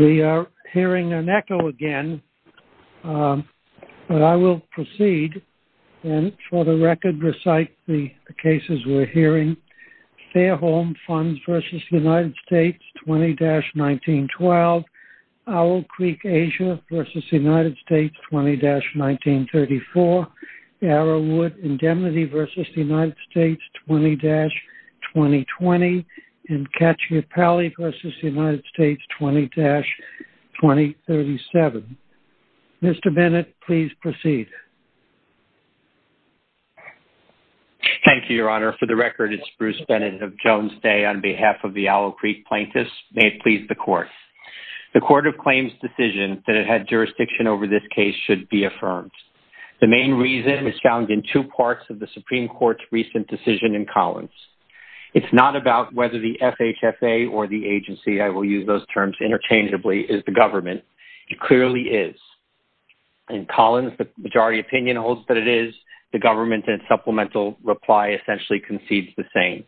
We are hearing an echo again, but I will proceed and for the record recite the cases we are hearing. Fairholme Funds v. United States 20-1912, Owl Creek Asia v. United States 20-1934, Arrowwood Indemnity v. United States 20-2020, and Cacciapalle v. United States 20-2037. Mr. Bennett, please proceed. Thank you, Your Honor. For the record, it's Bruce Bennett of Jones Day on behalf of the Owl Creek Plaintiffs. May it please the Court. The Court of Claims' decision that it had jurisdiction over this case should be affirmed. The main reason is found in two parts of the Supreme Court's recent decision in Collins. It's not about whether the FHFA or the agency, I will use those terms interchangeably, is the government. It clearly is. In Collins, the majority opinion holds that it is the government and supplemental reply essentially concedes the same.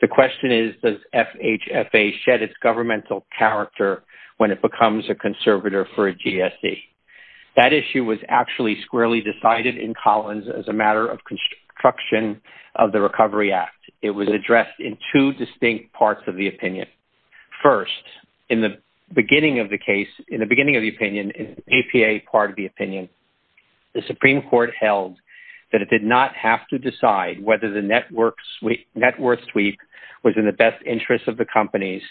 The question is, does FHFA shed its governmental character when it becomes a conservator for a GSE? That issue was actually squarely decided in Collins as a matter of construction of the Recovery Act. It was addressed in two distinct parts of the opinion. First, in the beginning of the case, in the beginning of the opinion, in the APA part of the opinion, the Supreme Court held that it did not have to decide whether the net worth sweep was in the best interest of the companies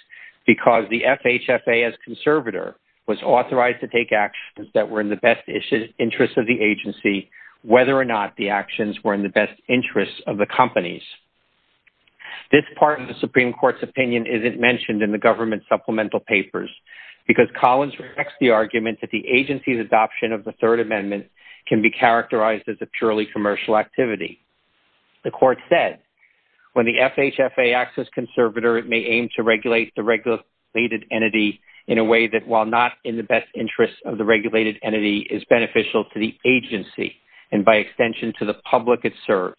because the FHFA as conservator was authorized to take actions that were in the best interest of the agency, whether or not the actions were in the best interest of the companies. This part of the Supreme Court's opinion isn't mentioned in the government supplemental papers because Collins rejects the argument that the agency's adoption of the Third Amendment can be characterized as a purely commercial activity. The court said, when the FHFA acts as conservator, it may aim to regulate the regulated entity in a way that while not in the best interest of the regulated entity, is beneficial to the agency and by extension to the public it serves.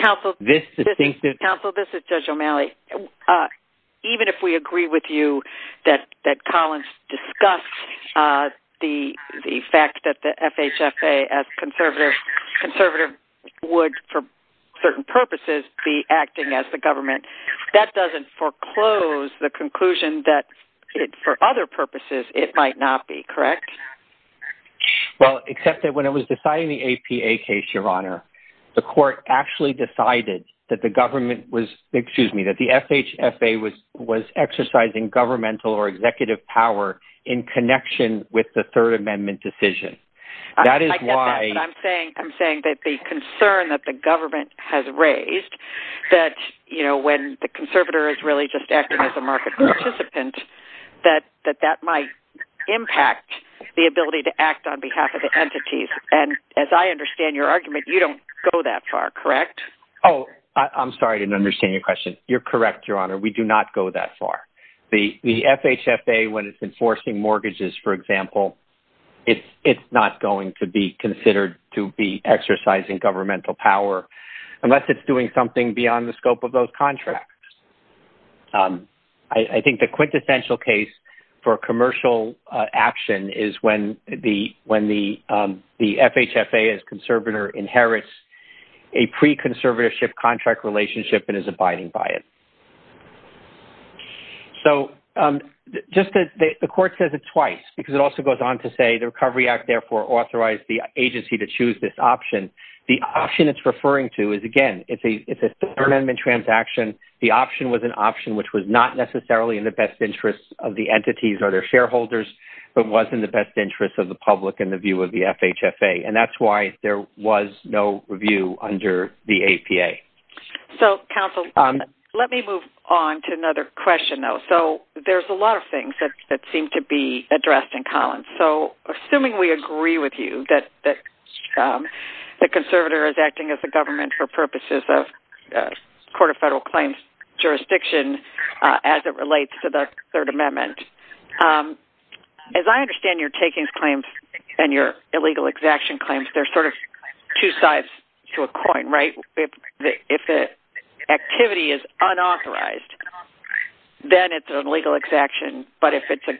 Counsel, this is Judge O'Malley. Even if we agree with you that Collins discussed the fact that the FHFA as conservator would, for certain purposes, be acting as the government, that doesn't foreclose the conclusion that for other purposes it might not be, correct? Well, except that when it was decided in the APA case, Your Honor, the court actually decided that the government was, excuse me, that the FHFA was exercising governmental or executive power in connection with the Third Amendment decision. That is why... I'm saying that the concern that the government has raised that, you know, when the conservator is really just acting as a market participant, that that might impact the ability to act on behalf of the entities. And as I understand your argument, you don't go that far, correct? Oh, I'm sorry, I didn't understand your question. You're correct, Your Honor. We do not go that far. The FHFA, when it's enforcing mortgages, for example, it's not going to be considered to be exercising governmental power unless it's doing something beyond the scope of those I think the quintessential case for commercial action is when the FHFA as conservator inherits a pre-conservatorship contract relationship and is abiding by it. So just that the court says it twice, because it also goes on to say the Recovery Act therefore authorized the agency to choose this option. The option it's referring to is, again, it's a Third Amendment transaction. The option was an option which was not necessarily in the best interest of the entities or their shareholders, but was in the best interest of the public in the view of the FHFA. And that's why there was no review under the APA. So counsel, let me move on to another question though. So there's a lot of things that seem to be addressed in Collins. So assuming we agree with you that the conservator is acting as a government for purposes of the Court of Federal Claims jurisdiction as it relates to the Third Amendment, as I understand your takings claims and your illegal exaction claims, they're sort of two sides to a coin, right? If an activity is unauthorized, then it's an illegal exaction. But if it's an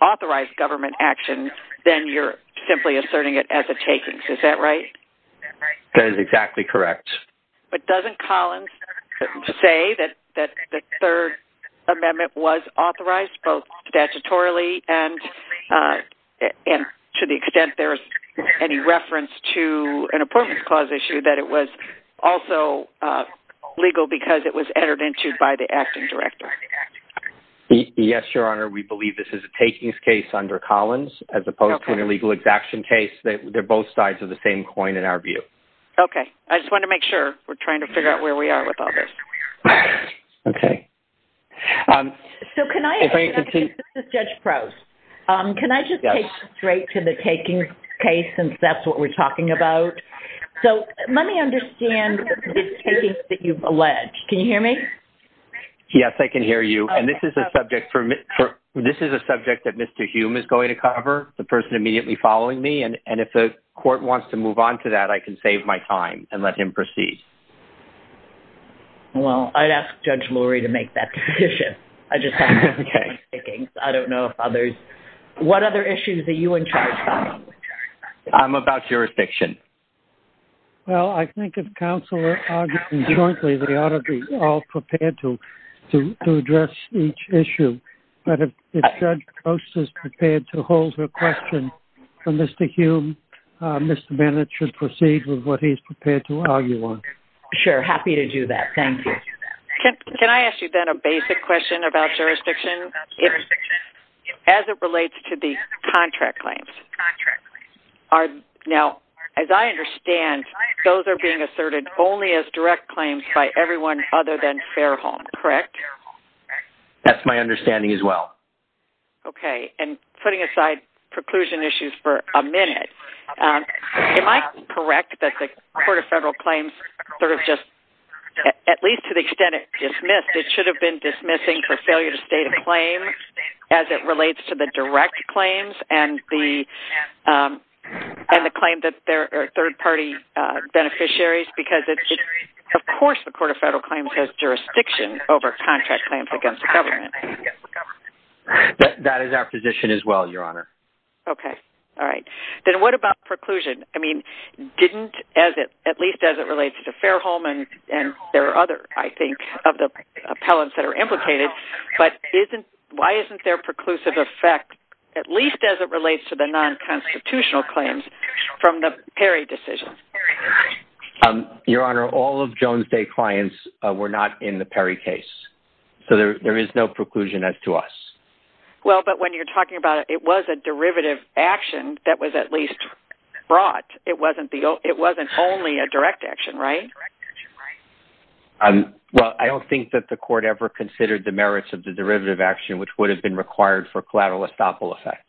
authorized government action, then you're simply asserting it as a takings. Is that right? That is exactly correct. But doesn't Collins say that the Third Amendment was authorized both statutorily and to the extent there's any reference to an apportionment clause issue, that it was also legal because it was entered into by the acting director? Yes, Your Honor. We believe this is a takings case under Collins as opposed to an illegal exaction case. They're both sides of the same coin in our view. Okay. I just want to make sure. We're trying to figure out where we are with all this. Okay. So can I... If I could see... This is Judge Prost. Can I just take straight to the takings case since that's what we're talking about? So let me understand the takings that you've alleged. Can you hear me? Yes. I can hear you. And this is a subject for... This is a subject that Mr. Hume is going to cover, the person immediately following me. And if the court wants to move on to that, I can save my time and let him proceed. Well, I'd ask Judge Lurie to make that decision. I just have to get on with the takings. I don't know if others... What other issues are you in charge of? I'm about jurisdiction. Well, I think if counsel is arguing jointly, we ought to be all prepared to address each issue. But if Judge Prost is prepared to hold her question for Mr. Hume, Mr. Bennett should proceed with what he's prepared to argue on. Sure. Happy to do that. Thank you. Can I ask you then a basic question about jurisdiction as it relates to the contract claims? Contract claims. Now, as I understand, those are being asserted only as direct claims by everyone other than Fairholme. Correct? Fairholme. That's my understanding as well. Okay. And putting aside preclusion issues for a minute, am I correct that the Court of Federal Claims sort of just... At least to the extent it dismissed, it should have been dismissing for failure to state a claim as it relates to the direct claims and the claim that they're third-party beneficiaries because of course the Court of Federal Claims has jurisdiction over contract claims against the government. That is our position as well, Your Honor. Okay. All right. Then what about preclusion? I mean, didn't as it... At least as it relates to Fairholme and there are other, I think, of the appellants that are implicated, but why isn't there preclusive effect at least as it relates to the non-constitutional claims from the Perry decision? Your Honor, all of Jones Day clients were not in the Perry case, so there is no preclusion as to us. Well, but when you're talking about it, it was a derivative action that was at least brought. It wasn't the... It wasn't only a direct action, right? Well, I don't think that the Court ever considered the merits of the derivative action, which would have been required for collateral estoppel effect.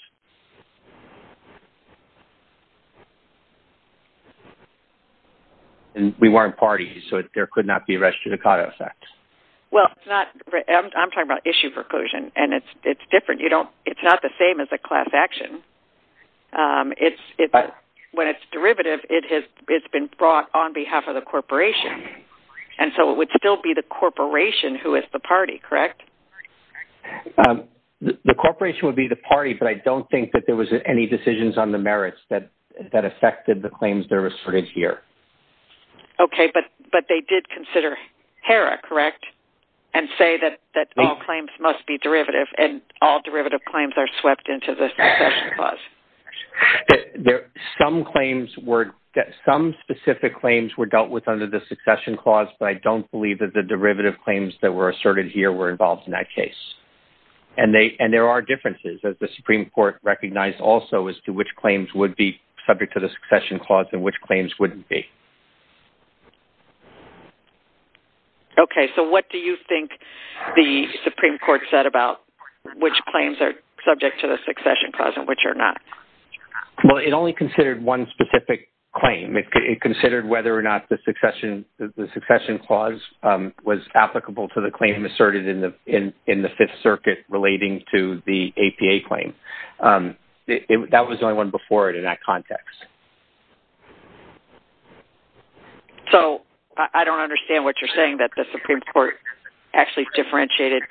And we weren't parties, so there could not be a res judicata effect. Well, it's not... I'm talking about issue preclusion, and it's different. You don't... It's not the same as a class action. It's... When it's derivative, it has been brought on behalf of the corporation. And so it would still be the corporation who is the party, correct? The corporation would be the party, but I don't think that there was any decisions on the merits that affected the claims that were asserted here. Okay, but they did consider HERA, correct, and say that all claims must be derivative, and all derivative claims are swept into the succession clause. Some claims were... Some specific claims were dealt with under the succession clause, but I don't believe that the derivative claims that were asserted here were involved in that case. And they... And there are differences, as the Supreme Court recognized also, as to which claims would be subject to the succession clause and which claims wouldn't be. Okay, so what do you think the Supreme Court said about which claims are subject to the succession clause and which are not? Well, it only considered one specific claim. It considered whether or not the succession clause was applicable to the claim asserted in the Fifth Circuit relating to the APA claim. That was the only one before it in that context. So I don't understand what you're saying, that the Supreme Court actually differentiated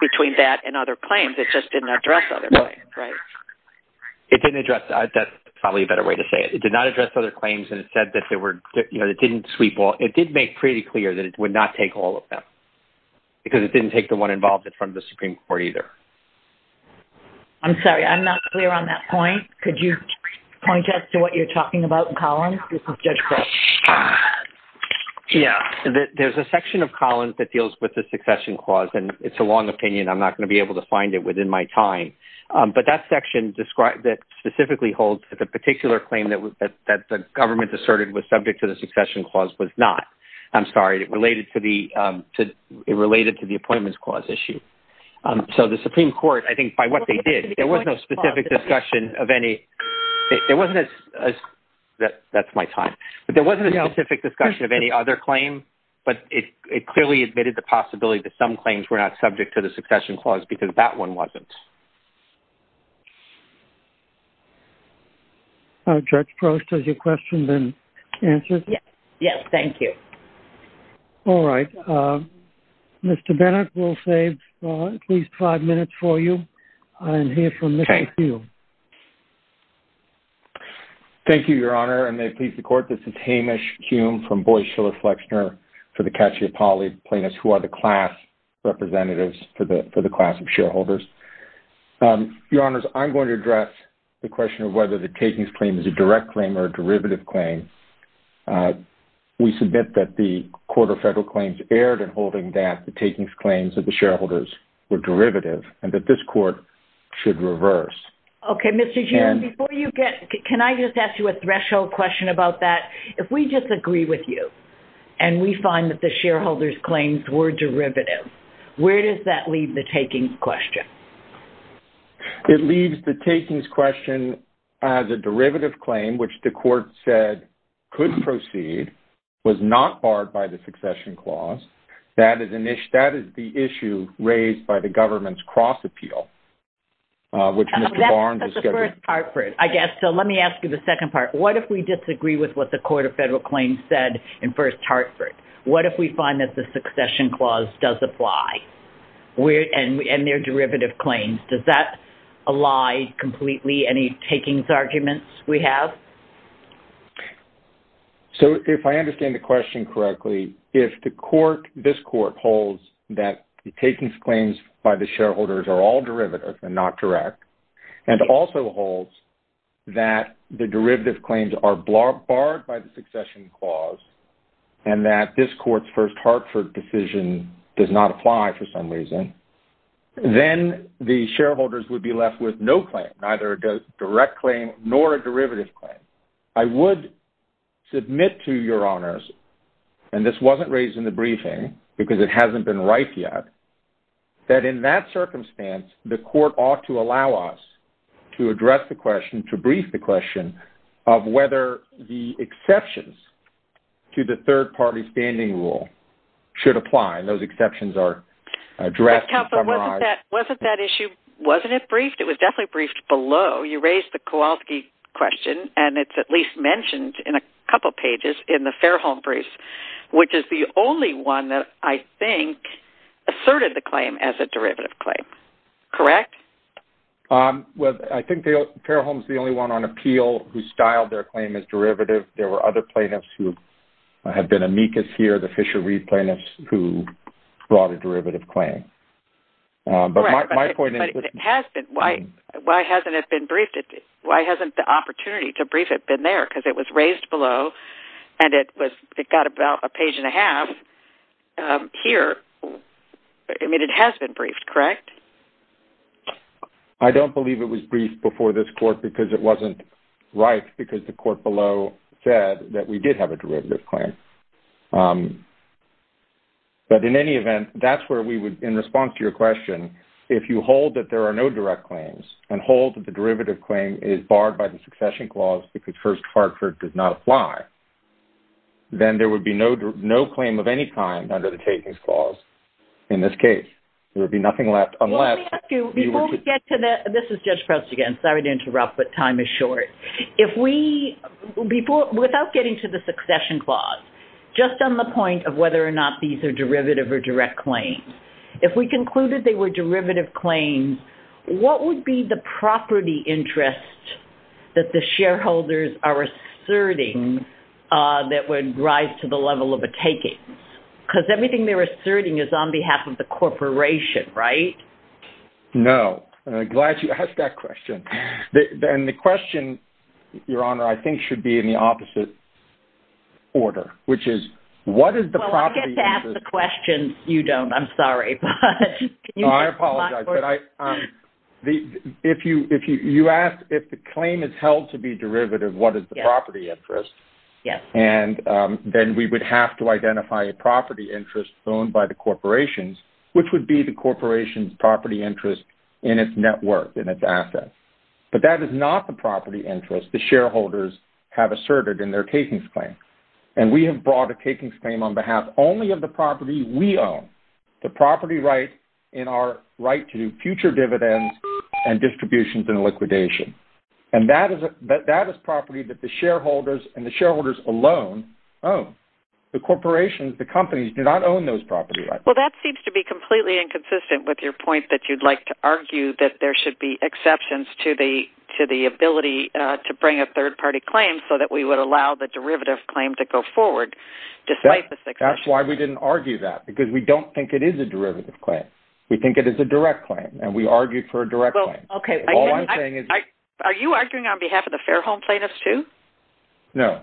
between that and other claims. It just didn't address other claims, right? No. It didn't address... That's probably a better way to say it. It did not address other claims, and it said that there were... You know, it didn't sweep all... It did make pretty clear that it would not take all of them, because it didn't take the one involved in front of the Supreme Court either. I'm sorry. I'm not clear on that point. Could you point us to what you're talking about in Columns, if I'm judge-correct? Yeah. There's a section of Columns that deals with the succession clause, and it's a long opinion. I'm not going to be able to find it within my time. But that section described it specifically holds that the particular claim that the government asserted was subject to the succession clause was not. I'm sorry. It related to the Appointments Clause issue. So the Supreme Court, I think, by what they did, there wasn't a specific discussion of any... There wasn't a... That's my time. But there wasn't a specific discussion of any other claim, but it clearly admitted the possibility that some claims were not subject to the succession clause, because that one wasn't. Judge Prost, does your question then answer? Yes. Yes. Thank you. All right. Mr. Bennett, we'll save at least five minutes for you, and hear from Mr. Hume. Thank you, Your Honor. And may it please the Court, this is Hamish Hume from Boies Schiller Flexner for the Cacciapolli plaintiffs, who are the class representatives for the class of shareholders. Your Honors, I'm going to address the question of whether the takings claim is a direct claim or a derivative claim. We submit that the Court of Federal Claims erred in holding that the takings claims of the shareholders were derivative, and that this Court should reverse. Okay. Mr. Hume, before you get... Can I just ask you a threshold question about that? If we just agree with you, and we find that the shareholders' claims were derivative, where does that leave the takings question? It leaves the takings question as a derivative claim, which the Court said could proceed, was not barred by the succession clause. That is the issue raised by the government's cross-appeal, which Mr. Barnes is... That's the first part. I guess. So let me ask you the second part. What if we disagree with what the Court of Federal Claims said in First Hartford? What if we find that the succession clause does apply? And they're derivative claims. Does that ally completely any takings arguments we have? So if I understand the question correctly, if the court, this court, holds that the takings claims by the shareholders are all derivative and not direct, and also holds that the derivative claims are barred by the succession clause, and that this court's First Hartford decision does not apply for some reason, then the shareholders would be left with no claim, neither a direct claim nor a derivative claim. I would submit to your honors, and this wasn't raised in the briefing because it hasn't been right yet, that in that circumstance, the court ought to allow us to address the question, to brief the question, of whether the exceptions to the third-party standing rule should apply. And those exceptions are addressed. Wasn't that issue, wasn't it briefed? It was definitely briefed below. You raised the Kowalski question, and it's at least mentioned in a couple pages in the Fairholme brief, which is the only one that I think asserted the claim as a derivative claim. Correct? Well, I think Fairholme's the only one on appeal who styled their claim as derivative. There were other plaintiffs who have been amicus here, the Fisher-Reed plaintiffs, who brought a derivative claim. But my point is... But it has been. Why hasn't it been briefed? Why hasn't the opportunity to brief it been there? Because it was raised below, and it got about a page and a half here. I mean, it has been briefed, correct? I don't believe it was briefed before this court because it wasn't right, because the court said that we did have a derivative claim. But in any event, that's where we would, in response to your question, if you hold that there are no direct claims, and hold that the derivative claim is barred by the succession clause because First Hartford does not apply, then there would be no claim of any kind under the takings clause in this case. There would be nothing left unless... Let me ask you, before we get to the... This is Judge Krosz again. Sorry to interrupt, but time is short. If we... Without getting to the succession clause, just on the point of whether or not these are derivative or direct claims, if we concluded they were derivative claims, what would be the property interest that the shareholders are asserting that would rise to the level of a taking? Because everything they're asserting is on behalf of the corporation, right? No. Glad you asked that question. And the question, Your Honor, I think should be in the opposite order, which is, what is the property interest... Well, I get to ask the question. You don't. I'm sorry, but... No, I apologize. You asked if the claim is held to be derivative, what is the property interest? Yes. And then we would have to identify a property interest owned by the corporations, which would be the corporation's property interest in its network, in its assets. But that is not the property interest the shareholders have asserted in their takings claim. And we have brought a takings claim on behalf only of the property we own, the property right in our right to future dividends and distributions and liquidation. And that is property that the shareholders and the shareholders alone own. The corporations, the companies, do not own those property rights. Well, that seems to be completely inconsistent with your point that you'd like to argue that there should be exceptions to the ability to bring a third-party claim so that we would allow the derivative claim to go forward, despite the... That's why we didn't argue that, because we don't think it is a derivative claim. We think it is a direct claim, and we argued for a direct claim. Well, okay. All I'm saying is... Are you arguing on behalf of the Fairholme plaintiffs, too? No.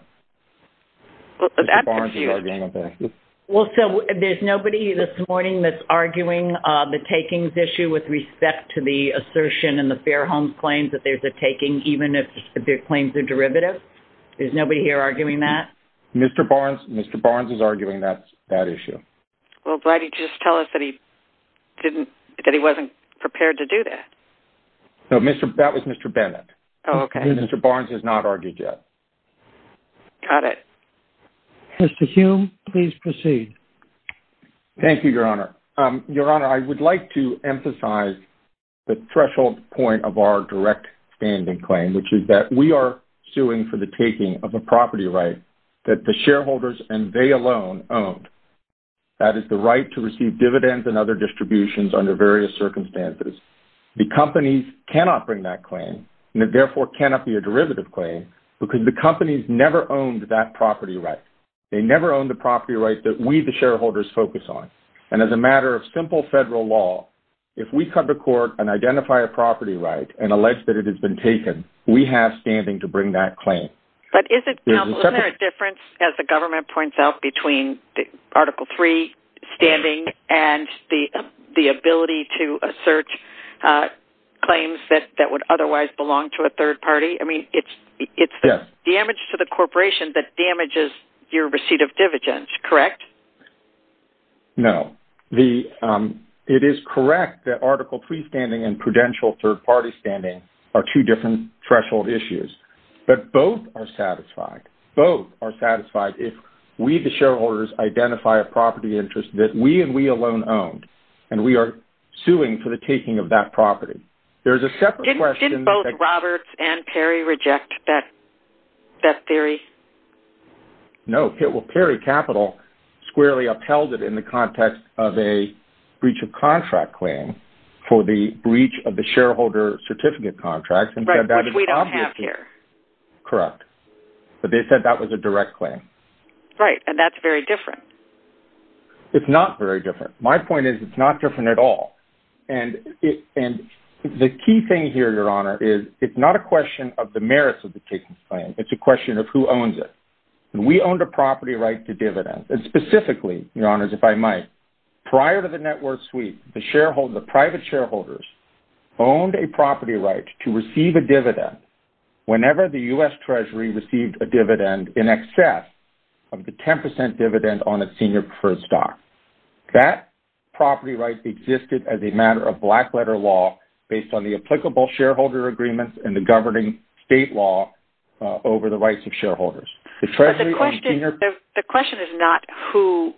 Mr. Barnes is arguing on behalf of... Well, so there's nobody this morning that's arguing the takings issue with respect to the assertion in the Fairholme claims that there's a taking, even if their claims are derivative? There's nobody here arguing that? Mr. Barnes is arguing that issue. Well, why didn't you just tell us that he wasn't prepared to do that? That was Mr. Bennett. Oh, okay. Mr. Barnes has not argued yet. Got it. Mr. Hume, please proceed. Thank you, Your Honor. Your Honor, I would like to emphasize the threshold point of our direct standing claim, which is that we are suing for the taking of a property right that the shareholders and they alone owned. That is the right to receive dividends and other distributions under various circumstances. The companies cannot bring that claim, and it therefore cannot be a derivative claim, because the companies never owned that property right. They never owned the property right that we, the shareholders, focus on. And as a matter of simple federal law, if we come to court and identify a property right and allege that it has been taken, we have standing to bring that claim. But is there a difference, as the government points out, between Article III standing and the ability to assert claims that would otherwise belong to a third party? I mean, it's damage to the corporation that damages your receipt of dividends, correct? No. It is correct that Article III standing and prudential third party standing are two different threshold issues. But both are satisfied. Both are satisfied if we, the shareholders, identify a property interest that we and we alone owned, and we are suing for the taking of that property. There's a separate question... Didn't both Roberts and Perry reject that theory? No. Perry Capital squarely upheld it in the context of a breach of contract claim for the breach of the shareholder certificate contract. Which we don't have here. Correct. But they said that was a direct claim. Right. And that's very different. It's not very different. My point is it's not different at all. And the key thing here, Your Honor, is it's not a question of the merits of the taking of the claim. It's a question of who owns it. And we owned a property right to dividend. And specifically, Your Honors, if I might, prior to the network sweep, the shareholders, the private shareholders, owned a property right to receive a dividend whenever the U.S. Treasury received a dividend in excess of the 10% dividend on its senior preferred stock. That property right existed as a matter of black letter law based on the applicable shareholder agreement and the governing state law over the rights of shareholders. But the question is not who...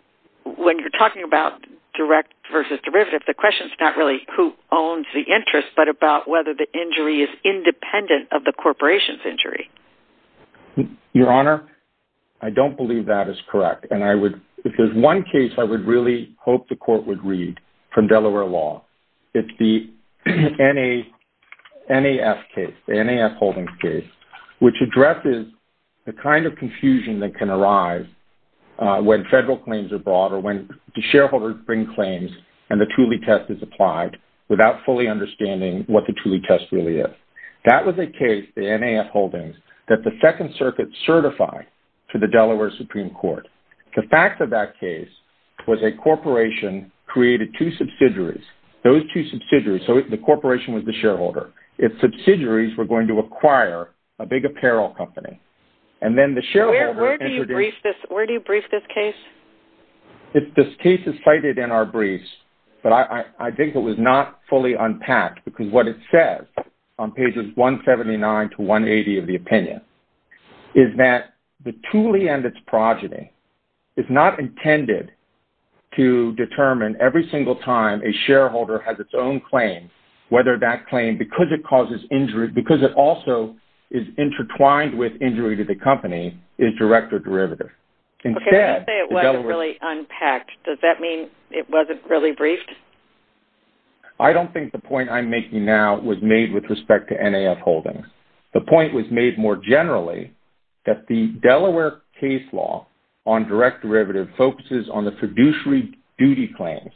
When you're talking about direct versus derivative, the question is not really who owns the interest, but about whether the injury is independent of the corporation's injury. Your Honor, I don't believe that is correct. If there's one case I would really hope the court would read from Delaware law, it's the NAF case, the NAF Holdings case, which addresses the kind of confusion that can arise when federal claims are brought or when the shareholders bring claims and the Thule test is applied without fully understanding what the Thule test really is. That was a case, the NAF Holdings, that the Second Circuit certified to the Delaware Supreme Court. The fact of that case was a corporation created two subsidiaries. Those two subsidiaries, so the corporation was the shareholder. Its subsidiaries were going to acquire a big apparel company. And then the shareholders... Where do you brief this case? This case is cited in our briefs, but I think it was not fully unpacked, because what it says on pages 179 to 180 of the opinion is that the Thule and its progeny is not intended to determine every single time a shareholder has its own claim, whether that claim, because it also is intertwined with injury to the company, is direct or derivative. Okay, let's say it wasn't really unpacked. Does that mean it wasn't really briefed? I don't think the point I'm making now was made with respect to NAF Holdings. The point was made more generally that the Delaware case law on direct derivative focuses on the fiduciary duty claims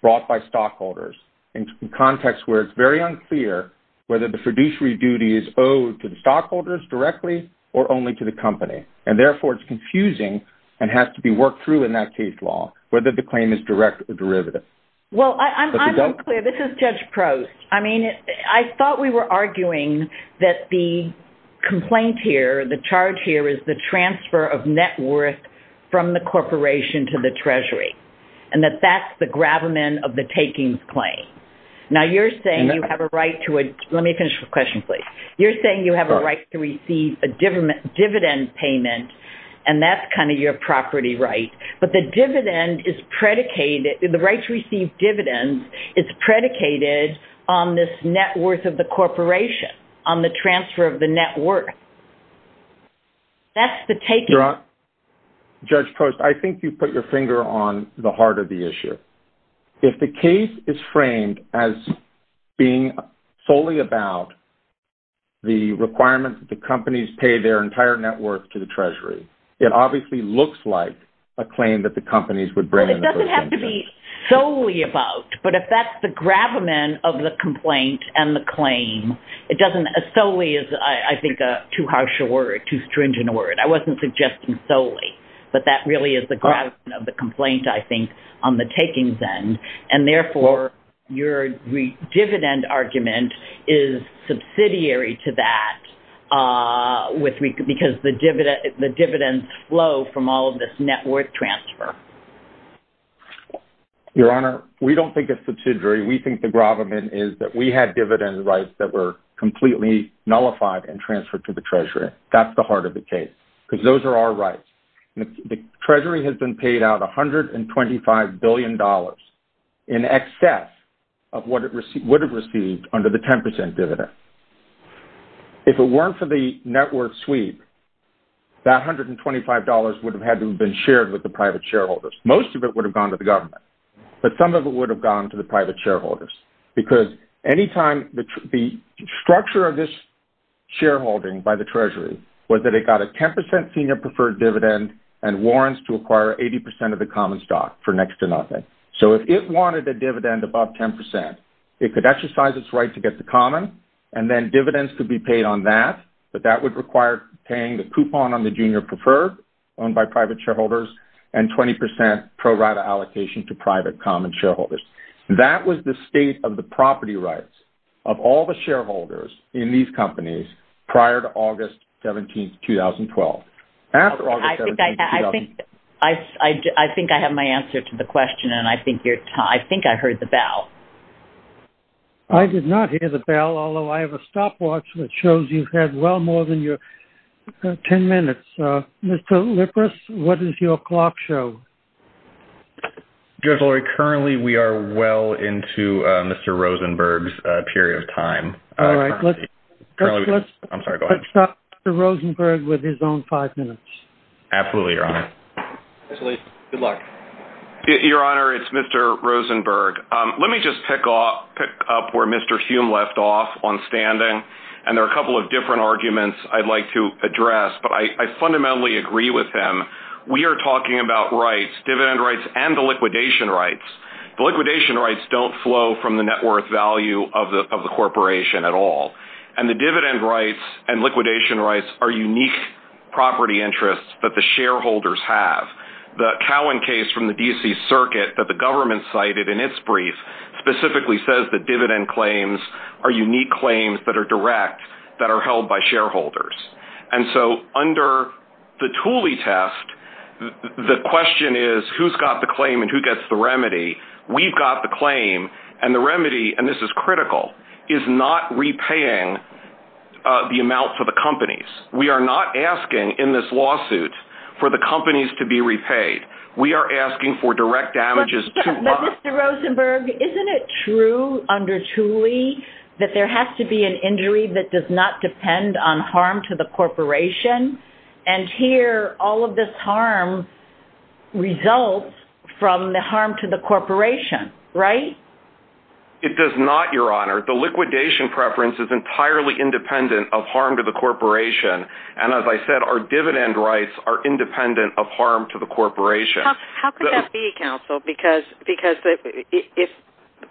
brought by stockholders in context where it's very unclear whether the fiduciary duty is owed to the stockholders directly or only to the company. And therefore, it's confusing and has to be worked through in that case law whether the claim is direct or derivative. Well, I'm unclear. This is Judge Prost. I mean, I thought we were arguing that the complaint here, the charge here, is the transfer of net worth from the corporation to the treasury and that that's the gravamen of the takings claim. Now, you're saying you have a right to a... Let me finish the question, please. You're saying you have a right to receive a dividend payment and that's kind of your property right, but the dividend is predicated... ...on this net worth of the corporation, on the transfer of the net worth. That's the taking. Judge Prost, I think you put your finger on the heart of the issue. If the case is framed as being solely about the requirements that the companies pay their entire net worth to the treasury, it obviously looks like a claim that the companies would bring... It doesn't have to be solely about, but if that's the gravamen of the complaint and the claim, it doesn't... Solely is, I think, too harsh a word, too stringent a word. I wasn't suggesting solely, but that really is the gravamen of the complaint, I think, on the takings end. And therefore, your dividend argument is subsidiary to that because the dividends flow from all of this net worth transfer. Your Honor, we don't think it's subsidiary. We think the gravamen is that we had dividend rights that were completely nullified and transferred to the treasury. That's the heart of the case because those are our rights. The treasury has been paid out $125 billion in excess of what it received under the 10% dividend. If it weren't for the net worth sweep, that $125 would have had to have been shared with the private shareholders. Most of it would have gone to the government, but some of it would have gone to the private shareholders because any time... The structure of this shareholding by the treasury was that it got a 10% senior preferred dividend and warrants to acquire 80% of the common stock for next to nothing. So if it wanted a dividend above 10%, it could exercise its right to get the common, and then dividends could be paid on that, but that would require paying the coupon on the junior preferred owned by private shareholders, and 20% pro rata allocation to private common shareholders. That was the state of the property rights of all the shareholders in these companies prior to August 17, 2012. After August 17, 2012... I think I have my answer to the question, and I think I heard the bell. I did not hear the bell, although I have a stopwatch that shows you've had well more than your 10 minutes. Mr. Lippis, what does your clock show? Currently, we are well into Mr. Rosenberg's period of time. All right. Let's stop Mr. Rosenberg with his own five minutes. Absolutely, Your Honor. Good luck. Your Honor, it's Mr. Rosenberg. Let me just pick up where Mr. Hume left off on standing, and there are a couple of different arguments I'd like to address, but I fundamentally agree with him. We are talking about rights, dividend rights, and the liquidation rights. The liquidation rights don't flow from the net worth value of the corporation at all. And the dividend rights and liquidation rights are unique property interests that the shareholders have. The Cowen case from the D.C. Circuit that the government cited in its brief specifically says that dividend claims are unique claims that are direct, that are held by shareholders. And so under the Thule test, the question is, who's got the claim and who gets the remedy? We've got the claim, and the remedy, and this is critical, is not repaying the amount to the companies. We are not asking in this lawsuit for the companies to be repaid. We are asking for direct damages to us. But Mr. Rosenberg, isn't it true under Thule that there has to be an injury that does not depend on harm to the corporation? And here, all of this harm results from the harm to the corporation, right? It does not, Your Honor. The liquidation preference is entirely independent of harm to the corporation. And as I said, our dividend rights are independent of harm to the corporation. How could that be, counsel? Because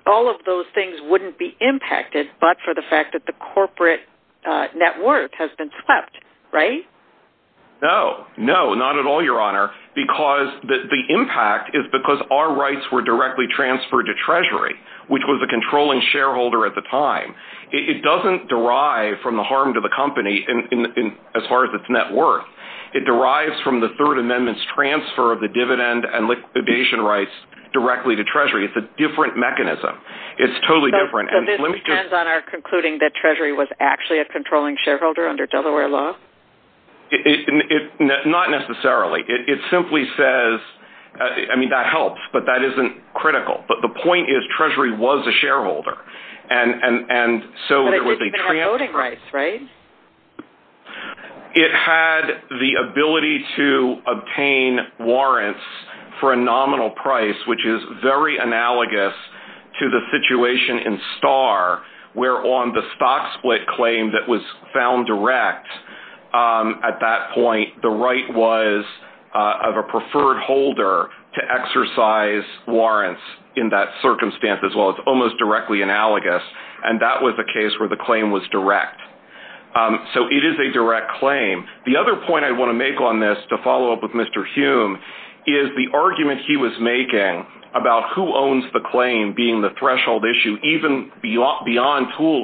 all of those things wouldn't be impacted but for the fact that the corporate net worth has been swept, right? No, not at all, Your Honor, because the impact is because our rights were directly transferred to Treasury, which was the controlling shareholder at the time. It doesn't derive from the harm to the company as far as its net worth. It derives from the Third Amendment's transfer of the dividend and liquidation rights directly to Treasury. It's a different mechanism. It's totally different. So this depends on our concluding that Treasury was actually a controlling shareholder under Delaware law? Not necessarily. It simply says... I mean, that helps, but that isn't critical. But the point is Treasury was a shareholder. And so there was a... But it didn't have voting rights, right? It had the ability to obtain warrants for a nominal price, which is very analogous to the situation in Star, where on the stock split claim that was found direct at that point, the right was of a preferred holder to exercise warrants in that circumstance as well. It's almost directly analogous. And that was a case where the claim was direct. So it is a direct claim. The other point I want to make on this to follow up with Mr. Hume is the argument he was making about who owns the claim being the threshold issue, even beyond Thule,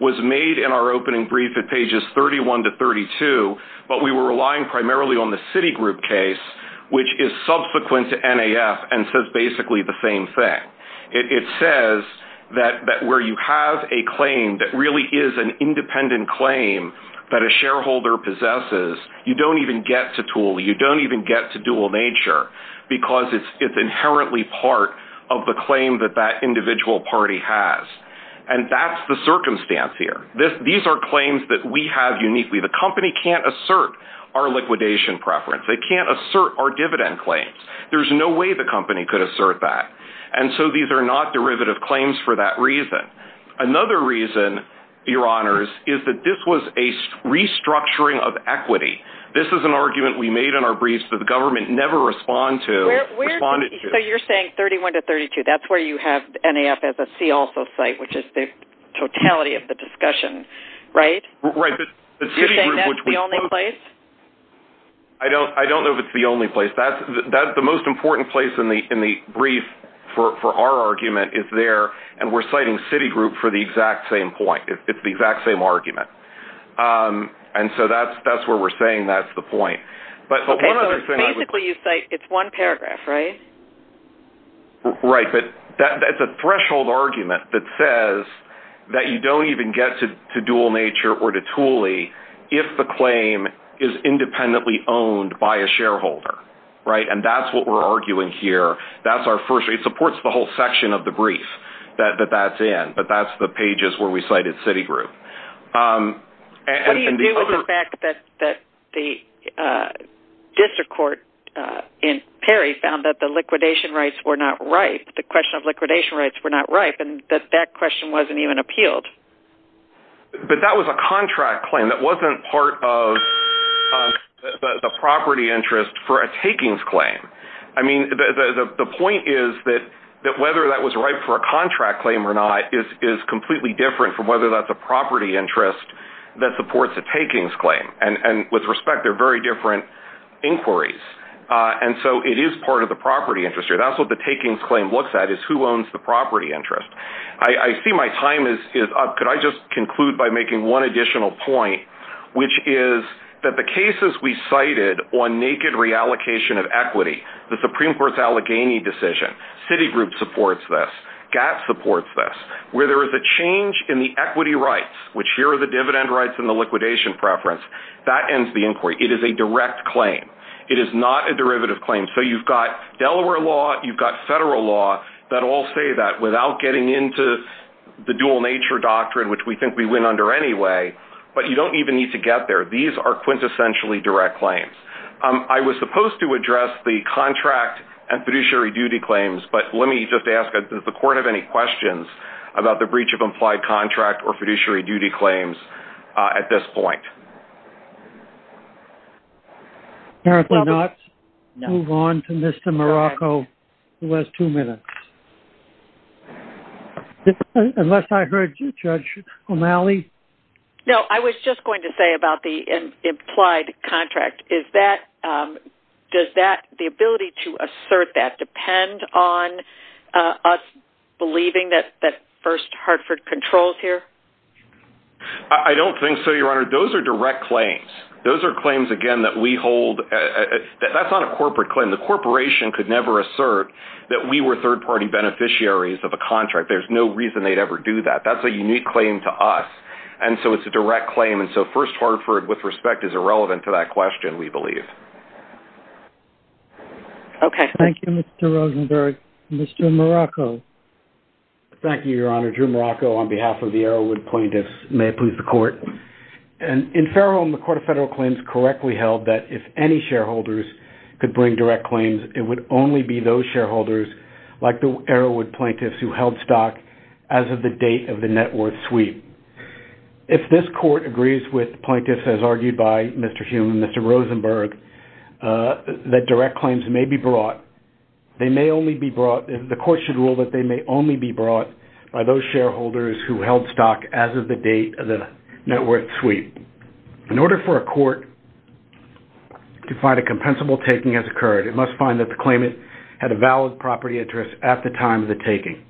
was made in our opening brief at pages 31 to 32, but we were relying primarily on the Citigroup case, which is subsequent to NAF and says basically the same thing. It says that where you have a claim that really is an independent claim that a shareholder possesses, you don't even get to Thule, you don't even get to dual nature, because it's inherently part of the claim that that individual party has. And that's the circumstance here. These are claims that we have uniquely. The company can't assert our liquidation preference. They can't assert our dividend claims. There's no way the company could assert that. And so these are not derivative claims for that reason. Another reason, Your Honors, is that this was a restructuring of equity. This is an argument we made in our briefs that the government never responded to. So you're saying 31 to 32, that's where you have NAF as a CILF site, which is the totality of the discussion, right? Right. You're saying that's the only place? I don't know if it's the only place. The most important place in the brief for our argument is there, and we're citing Citigroup for the exact same point. It's the exact same argument. And so that's where we're saying that's the point. Basically, you say it's one paragraph, right? Right, but that's a threshold argument that says that you don't even get to dual nature or to Thule if the claim is independently owned by a shareholder, right? And that's what we're arguing here. It supports the whole section of the brief that that's in, but that's the pages where we cited Citigroup. What do you do with the fact that the district court in Perry found that the question of liquidation rights were not ripe, and that that question wasn't even appealed? But that was a contract claim. That wasn't part of the property interest for a takings claim. I mean, the point is that whether that was ripe for a contract claim or not is completely different from whether that's a property interest that supports a takings claim. And with respect, they're very different inquiries. And so it is part of the property interest. That's what the takings claim looks at is who owns the property interest. I see my time is up. Could I just conclude by making one additional point, which is that the cases we cited on naked reallocation of equity, the Supreme Court's Allegheny decision, Citigroup supports this, GATT supports this, where there is a change in the equity rights, which here are the dividend rights and the liquidation preference, that ends the inquiry. It is a direct claim. It is not a derivative claim. So you've got Delaware law, you've got federal law that all say that without getting into the dual nature doctrine, which we think we win under anyway, but you don't even need to get there. These are quintessentially direct claims. I was supposed to address the contract and fiduciary duty claims, but let me just ask, does the court have any questions about the breach of implied contract or fiduciary duty claims at this point? Apparently not. Move on to Mr. Morocco for the last two minutes. Unless I heard you, Judge O'Malley. No, I was just going to say about the implied contract. Does the ability to assert that depend on us believing that First Hartford controls here? I don't think so, Your Honor. Those are direct claims. Those are claims, again, that we hold. That's not a corporate claim. The corporation could never assert that we were third-party beneficiaries of a contract. There's no reason they'd ever do that. That's a unique claim to us. And so it's a direct claim. And so First Hartford, with respect, is irrelevant to that question, we believe. Okay. Thank you, Mr. Rosenberg. Mr. Morocco. Thank you, Your Honor. Your Honor, Drew Morocco, on behalf of the Arrowwood plaintiffs, may approve the court. In Fairholme, the Court of Federal Claims correctly held that if any shareholders could bring direct claims, it would only be those shareholders, like the Arrowwood plaintiffs, who held stock as of the date of the net worth sweep. If this court agrees with the plaintiffs, as argued by Mr. Hume and Mr. Rosenberg, that direct claims may be brought, they may only be brought, the court should rule that they may only be brought by those shareholders who held stock as of the date of the net worth sweep. In order for a court to find a compensable taking has occurred, it must find that the claimant had a valid property interest at the time of the taking,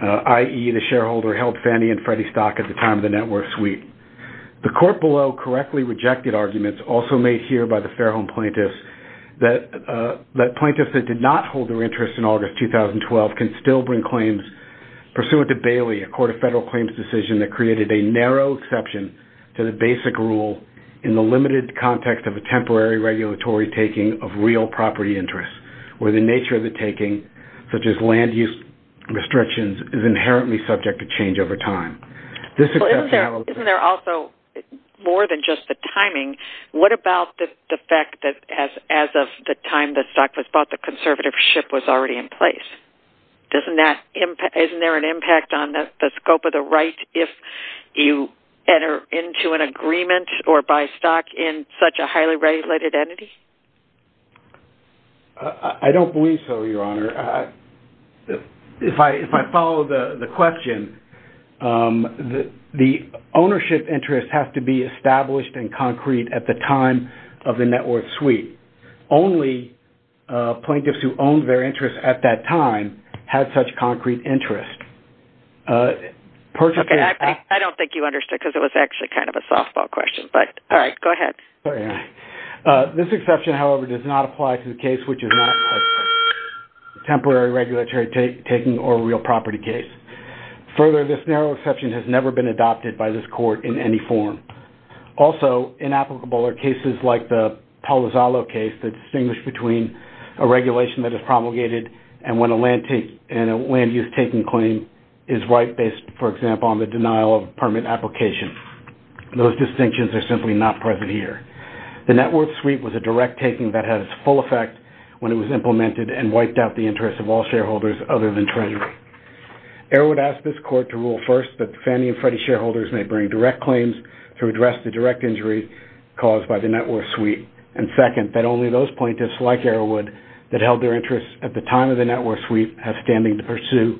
i.e., the shareholder held Fannie and Freddie stock at the time of the net worth sweep. The court below correctly rejected arguments also made here by the Fairholme plaintiffs that plaintiffs that did not hold their interest in August 2012 can still bring claims pursuant to Bailey, a Court of Federal Claims decision that created a narrow exception to the basic rule in the limited context of a temporary regulatory taking of real property interests, where the nature of the taking, such as land use restrictions, is inherently subject to change over time. Isn't there also more than just the timing? What about the fact that as of the time that stock was bought, the conservatorship was already in place? Isn't there an impact on the scope of the right if you enter into an agreement or buy stock in such a highly regulated entity? I don't believe so, Your Honor. If I follow the question, the ownership interests have to be established and concrete at the time of the net worth sweep. Only plaintiffs who owned their interest at that time had such concrete interest. I don't think you understood because it was actually kind of a softball question, but all right, go ahead. This exception, however, does not apply to the case which is not a temporary regulatory taking or real property case. Further, this narrow exception has never been adopted by this court in any form. Also, inapplicable are cases like the Palo Zalo case that distinguish between a regulation that is promulgated and when a land use taking claim is right based, for example, on the denial of a permit application. Those distinctions are simply not present here. The net worth sweep was a direct taking that had its full effect when it was implemented and wiped out the interest of all shareholders other than Treasury. Arrowood asked this court to rule first that Fannie and Freddie shareholders may bring direct claims to address the direct injury caused by the net worth sweep, and second, that only those plaintiffs like Arrowood that held their interest at the time of the net worth sweep have standing to pursue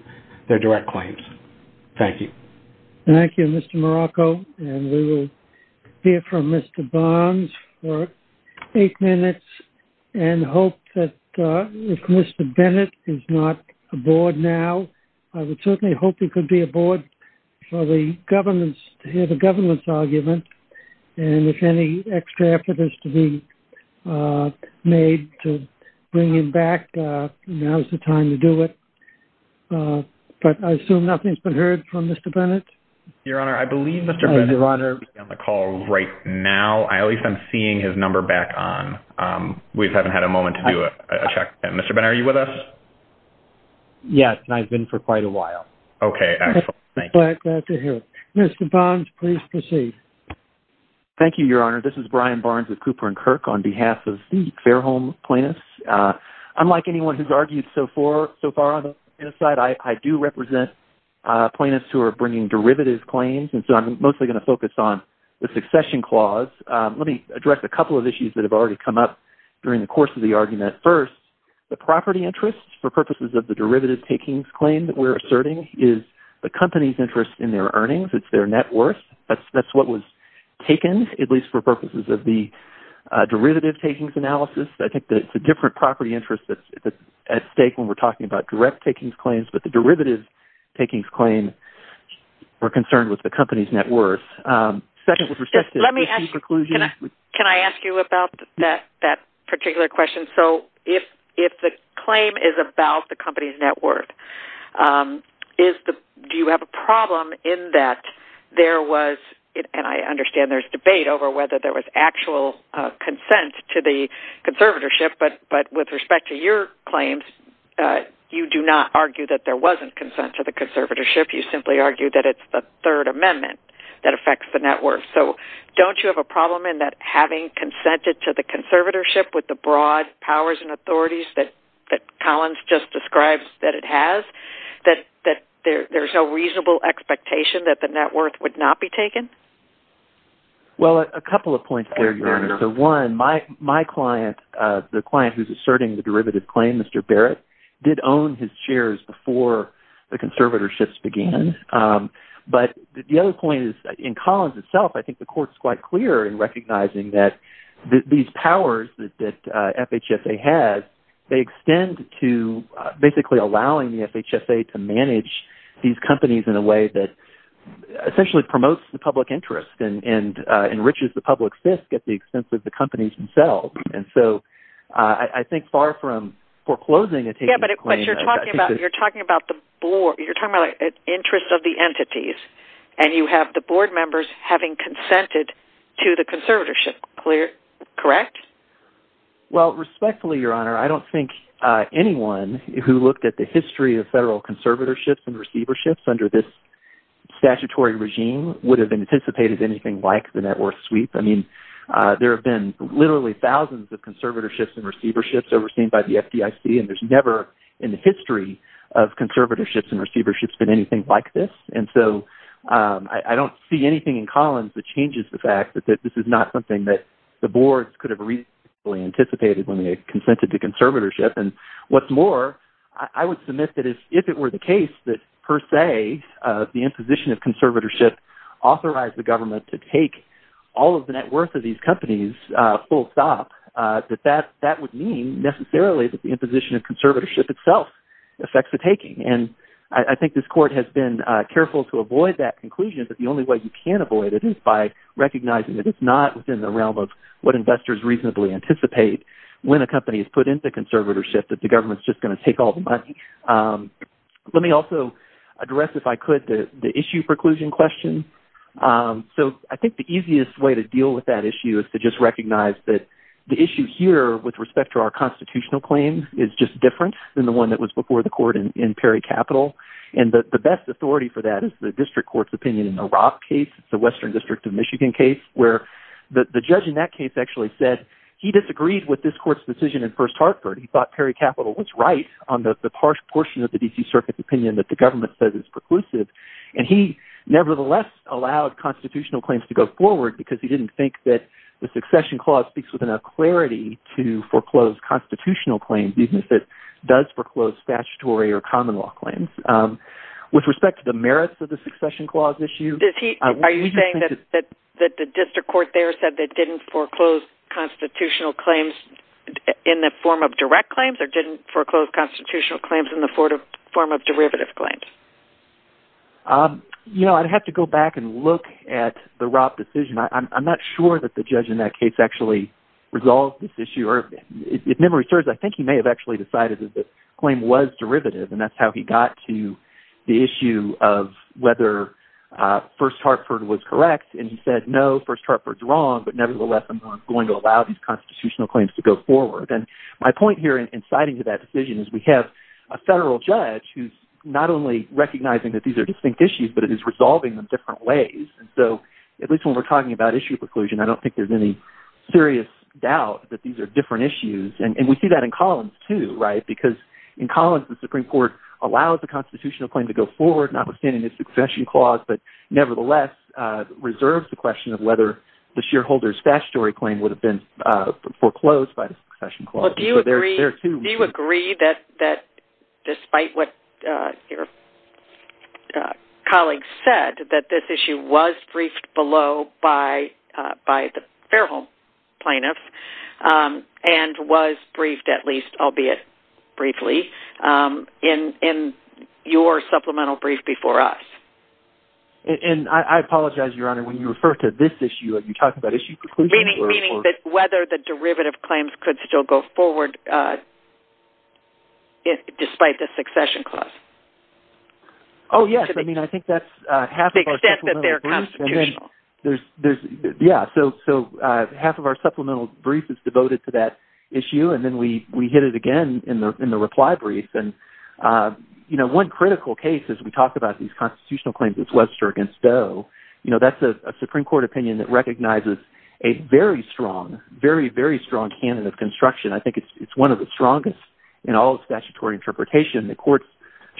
their direct claims. Thank you. Thank you, Mr. Morocco, and we will hear from Mr. Barnes for eight minutes and hope that if Mr. Bennett is not aboard now, I would certainly hope he could be aboard for the governance, to hear the governance argument, and if any extra effort is to be made to bring him back, now's the time to do it. But I assume nothing's been heard from Mr. Bennett? Your Honor, I believe Mr. Bennett is on the call right now. I believe I'm seeing his number back on. We haven't had a moment to do a check. Mr. Bennett, are you with us? Yes, and I've been for quite a while. Okay, excellent. Thank you. Mr. Barnes, please proceed. Thank you, Your Honor. This is Brian Barnes with Cooper & Kirk on behalf of the Fairholme plaintiffs. Unlike anyone who's argued so far on the plaintiffs' side, I do represent plaintiffs who are bringing derivative claims, and so I'm mostly going to focus on the succession clause. Let me address a couple of issues that have already come up during the course of the argument. First, the property interest for purposes of the derivative takings claim that we're asserting is the company's interest in their earnings. It's their net worth. That's what was taken, at least for purposes of the derivative takings analysis. I think that it's a different property interest that's at stake when we're talking about direct takings claims, but the derivative takings claim, we're concerned with the company's net worth. Let me ask you about that particular question. If the claim is about the company's net worth, do you have a problem in that there was, and I understand there's debate over whether there was actual consent to the conservatorship, but with respect to your claims, you do not argue that there wasn't consent to the conservatorship. You simply argue that it's the Third Amendment that affects the net worth. Don't you have a problem in that having consented to the conservatorship with the broad powers and authorities that Collins just described that it has, that there's a reasonable expectation that the net worth would not be taken? Well, a couple of points there, Your Honor. One, my client, the client who's asserting the derivative claim, Mr. Barrett, did own his shares before the conservatorships began. But the other point is, in Collins itself, I think the court's quite clear in recognizing that these powers that FHSA has, they extend to basically allowing the FHSA to manage these companies in a way that essentially promotes the public interest and enriches the public's risk at the expense of the companies themselves. And so, I think far from foreclosing and taking the claim... Yeah, but you're talking about the interest of the entities, and you have the board members having consented to the conservatorship, correct? Well, respectfully, Your Honor, I don't think anyone who looked at the history of federal conservatorships and receiverships under this statutory regime would have anticipated anything like the net worth sweep. I mean, there have been literally thousands of conservatorships and receiverships overseen by the FDIC, and there's never in the history of conservatorships and receiverships been anything like this. And so, I don't see anything in Collins that changes the fact that this is not something that the boards could have reasonably anticipated when they consented to conservatorship. And what's more, I would submit that if it were the case that, per se, the imposition of conservatorship authorized the government to take all of the net worth of these companies full stop, that that would mean, necessarily, that the imposition of conservatorship itself affects the taking. And I think this Court has been careful to avoid that conclusion, but the only way you can avoid it is by recognizing that it's not within the realm of what investors reasonably anticipate when a company is put into conservatorship, that the government's just going to take all the money. Let me also address, if I could, the issue preclusion question. So, I think the easiest way to deal with that issue is to just recognize that the issue here with respect to our constitutional claims is just different than the one that was before the Court in Perry Capital. And the best authority for that is the District Court's opinion in the Roth case, the Western District of Michigan case, where the judge in that case actually said he disagreed with this Court's decision in First Hartford. He thought Perry Capital was right on the harsh portion of the D.C. Circuit's opinion that the government says is preclusive. And he, nevertheless, allowed constitutional claims to go forward because he didn't think that the Succession Clause speaks with enough clarity to foreclose constitutional claims even if it does foreclose statutory or common law claims. With respect to the merits of the Succession Clause issue... ...did the judge foreclose constitutional claims in the form of direct claims or didn't foreclose constitutional claims in the form of derivative claims? You know, I'd have to go back and look at the Roth decision. I'm not sure that the judge in that case actually resolved this issue. If memory serves, I think he may have actually decided that the claim was derivative. And that's how he got to the issue of whether First Hartford was correct. And he said, no, First Hartford's wrong. But nevertheless, I'm going to allow these constitutional claims to go forward. And my point here in citing to that decision is we have a federal judge who's not only recognizing that these are distinct issues, but it is resolving them different ways. And so, at least when we're talking about issue preclusion, I don't think there's any serious doubt that these are different issues. And we see that in Collins too, right? Because in Collins, the Supreme Court allows the constitutional claim to go forward notwithstanding the Succession Clause, but nevertheless, reserves the question of whether the shareholder's statutory claim would have been foreclosed by the Succession Clause. Do you agree that, despite what your colleague said, that this issue was briefed below by the Fairholme plaintiffs and was briefed at least, albeit briefly, in your supplemental brief before us? And I apologize, Your Honor, when you refer to this issue, have you talked about issue preclusion? Meaning that whether the derivative claims could still go forward despite the Succession Clause? Oh, yes. I mean, I think that's half of our supplemental brief. Except that they're constitutional. Yeah. So, half of our supplemental brief is devoted to that issue. And then we hit it again in the reply brief. You know, one critical case, as we talk about these constitutional claims, is Webster v. Doe. You know, that's a Supreme Court opinion that recognizes a very strong, very, very strong candidate of construction. I think it's one of the strongest in all of statutory interpretation. The courts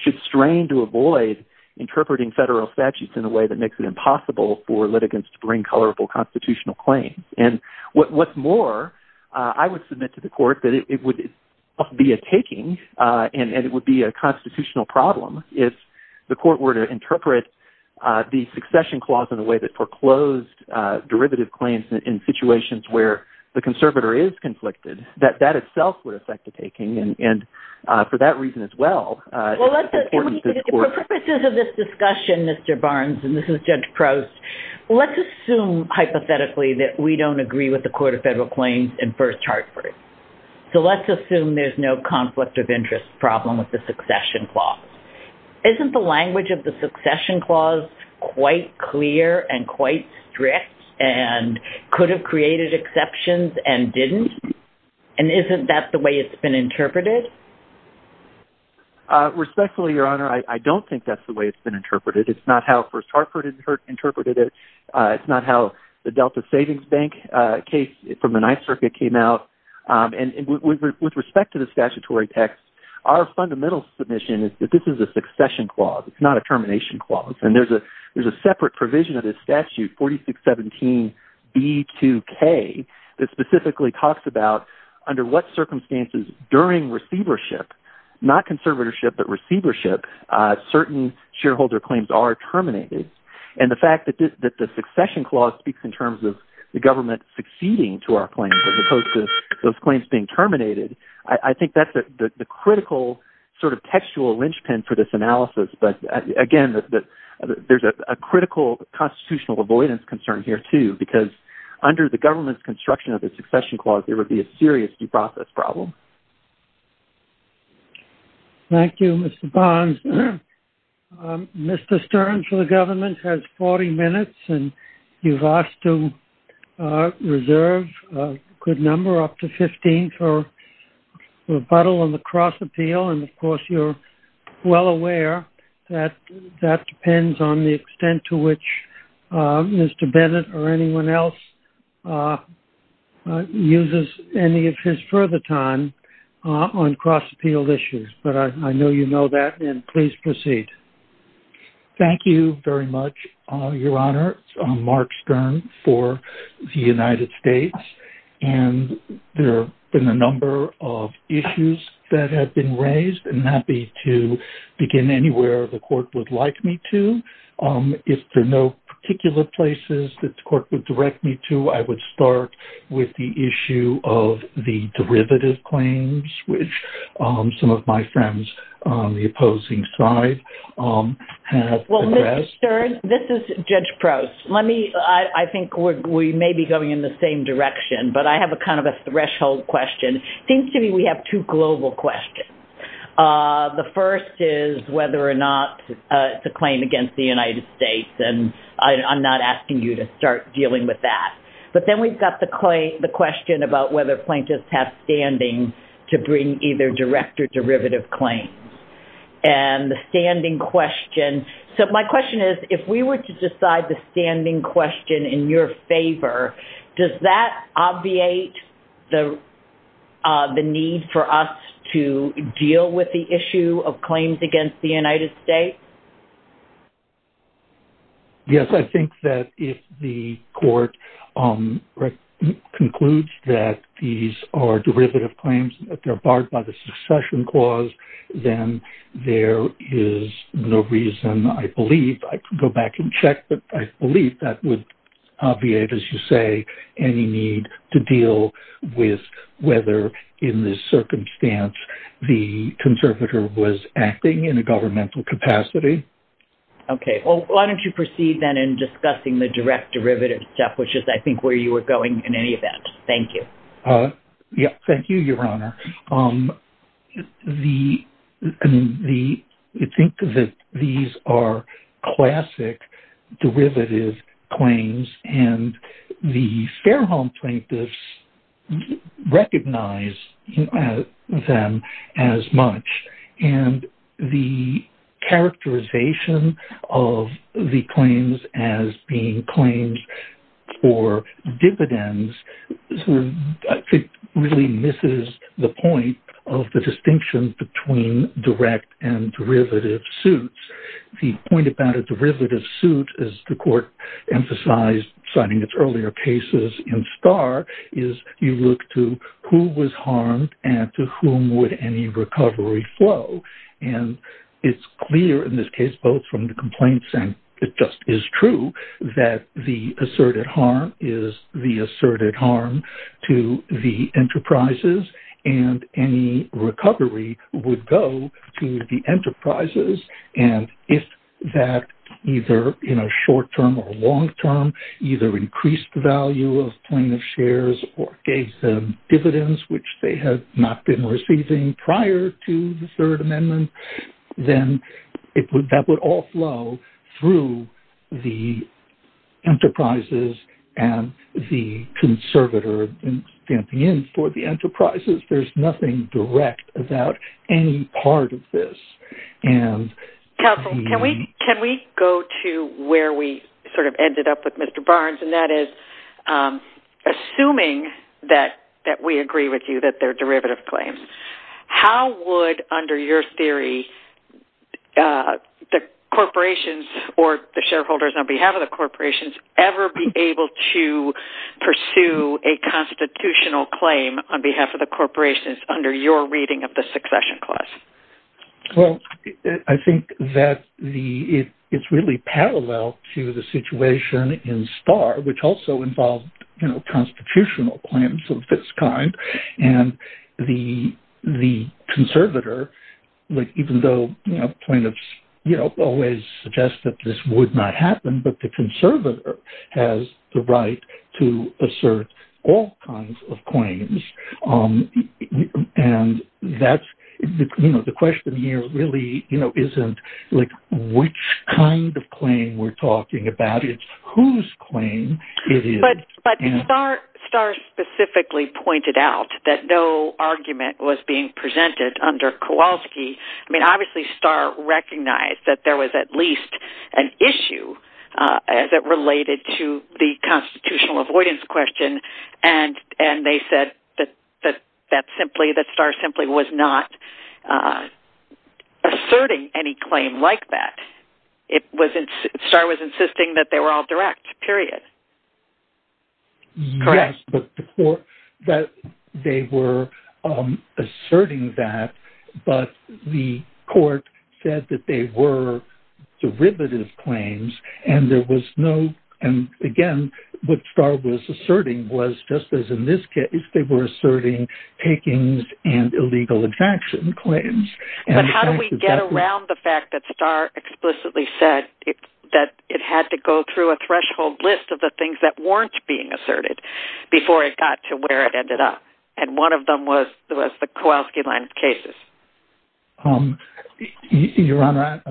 should strain to avoid interpreting federal statutes in a way that makes it impossible for litigants to bring colorful constitutional claims. And what's more, I would submit to the court that it would be a taking and it would be a constitutional problem if the court were to interpret the Succession Clause in a way that foreclosed derivative claims in situations where the conservator is conflicted, that that itself would affect the taking. And for that reason as well... Well, let's assume... For purposes of this discussion, Mr. Barnes, and this is Judge Crouse, let's assume, hypothetically, that we don't agree with the Court of Federal Claims and First Hartford. So let's assume there's no conflict of interest problem with the Succession Clause. Isn't the language of the Succession Clause quite clear and quite strict and could have created exceptions and didn't? And isn't that the way it's been interpreted? Respectfully, Your Honor, I don't think that's the way it's been interpreted. It's not how First Hartford interpreted it. It's not how the Delta Savings Bank case from the Ninth Circuit came out. And with respect to the statutory text, our fundamental submission is that this is a Succession Clause. It's not a Termination Clause. And there's a separate provision of this statute, 4617B2K, that specifically talks about under what circumstances during receivership, not conservatorship, but receivership, certain shareholder claims are terminated. And the fact that the Succession Clause speaks in terms of the government succeeding to our claims as opposed to those claims being terminated, I think that's the critical sort of textual linchpin for this analysis. But again, there's a critical constitutional avoidance concern here, too, because under the government's construction of the Succession Clause, there would be a serious due process problem. Thank you, Mr. Bonds. Mr. Stern for the government has 40 minutes, and you've asked to reserve a good number, up to 15, for rebuttal on the cross-appeal. And of course, you're well aware that that depends on the extent to which Mr. Bennett or anyone else uses any of his further time on cross-appeal issues. But I know you know that, and please proceed. Thank you very much, Your Honor. I'm Mark Stern for the United States. And there have been a number of issues that have been raised. I'm happy to begin anywhere the Court would like me to. If there are no particular places that the Court would direct me to, I would start with the issue of the derivative claims, which some of my friends on the opposing side have addressed. Well, Mr. Stern, this is Judge Prost. I think we may be going in the same direction, but I have kind of a threshold question. It seems to me we have two global questions. The first is whether or not it's a claim against the United States, and I'm not asking you to start dealing with that. But then we've got the question about whether plaintiffs have standing to bring either direct or derivative claims. And the standing question... So my question is, if we were to decide the standing question in your favor, does that obviate the need for us to deal with the issue of claims against the United States? Yes, I think that if the Court concludes that these are derivative claims, that they're barred by the succession clause, then there is no reason, I believe, I could go back and check, but I believe that would obviate, as you say, any need to deal with whether, in this circumstance, the conservator was acting in a governmental capacity. Okay. Well, why don't you proceed then in discussing the direct derivative step, which is, I think, where you were going in any event. Thank you. Yes, thank you, Your Honor. I think that these are classic derivative claims, and the Fairholme plaintiffs recognize them as much. And the characterization of the claims as being claims for dividends, I think, really misses the point of the distinction between direct and derivative suits. The point about a derivative suit, as the Court emphasized, citing its earlier cases in Starr, is you look to who was harmed and to whom would any recovery flow. And it's clear in this case, both from the complaints and it just is true, that the asserted harm is the asserted harm to the enterprises, and any recovery would go to the enterprises. And if that, either in a short-term or long-term, either increased the value of plaintiff's shares or gave them dividends, which they had not been receiving prior to the Third Amendment, then that would all flow through the enterprises and the conservator in the end for the enterprises. There's nothing direct about any part of this. Can we go to where we sort of ended up with Mr. Barnes, and that is, assuming that we agree with you that they're derivative claims, how would, under your theory, the corporations or the shareholders on behalf of the corporations ever be able to pursue a constitutional claim on behalf of the corporations under your reading of the Succession Clause? Well, I think that it's really parallel to the situation in Starr, which also involved constitutional claims of this kind, and the conservator, even though plaintiffs always suggest that this would not happen, but the conservator has the right to assert all kinds of claims. The question here really isn't which kind of claim we're talking about. It's whose claim it is. But Starr specifically pointed out that no argument was being presented under Kowalski. I mean, obviously, Starr recognized that there was at least an issue that related to the constitutional avoidance question, and they said that Starr simply was not asserting any claim like that. Starr was insisting that they were all direct, period. Yes, but they were asserting that, but the court said that they were derivative claims, and there was no... And again, what Starr was asserting was, just as in this case, they were asserting takings and illegal abjection claims. But how do we get around the fact that Starr explicitly said that it had to go through a threshold list of the things that weren't being asserted before it got to where it ended up? And one of them was the Kowalski land cases. Your Honor,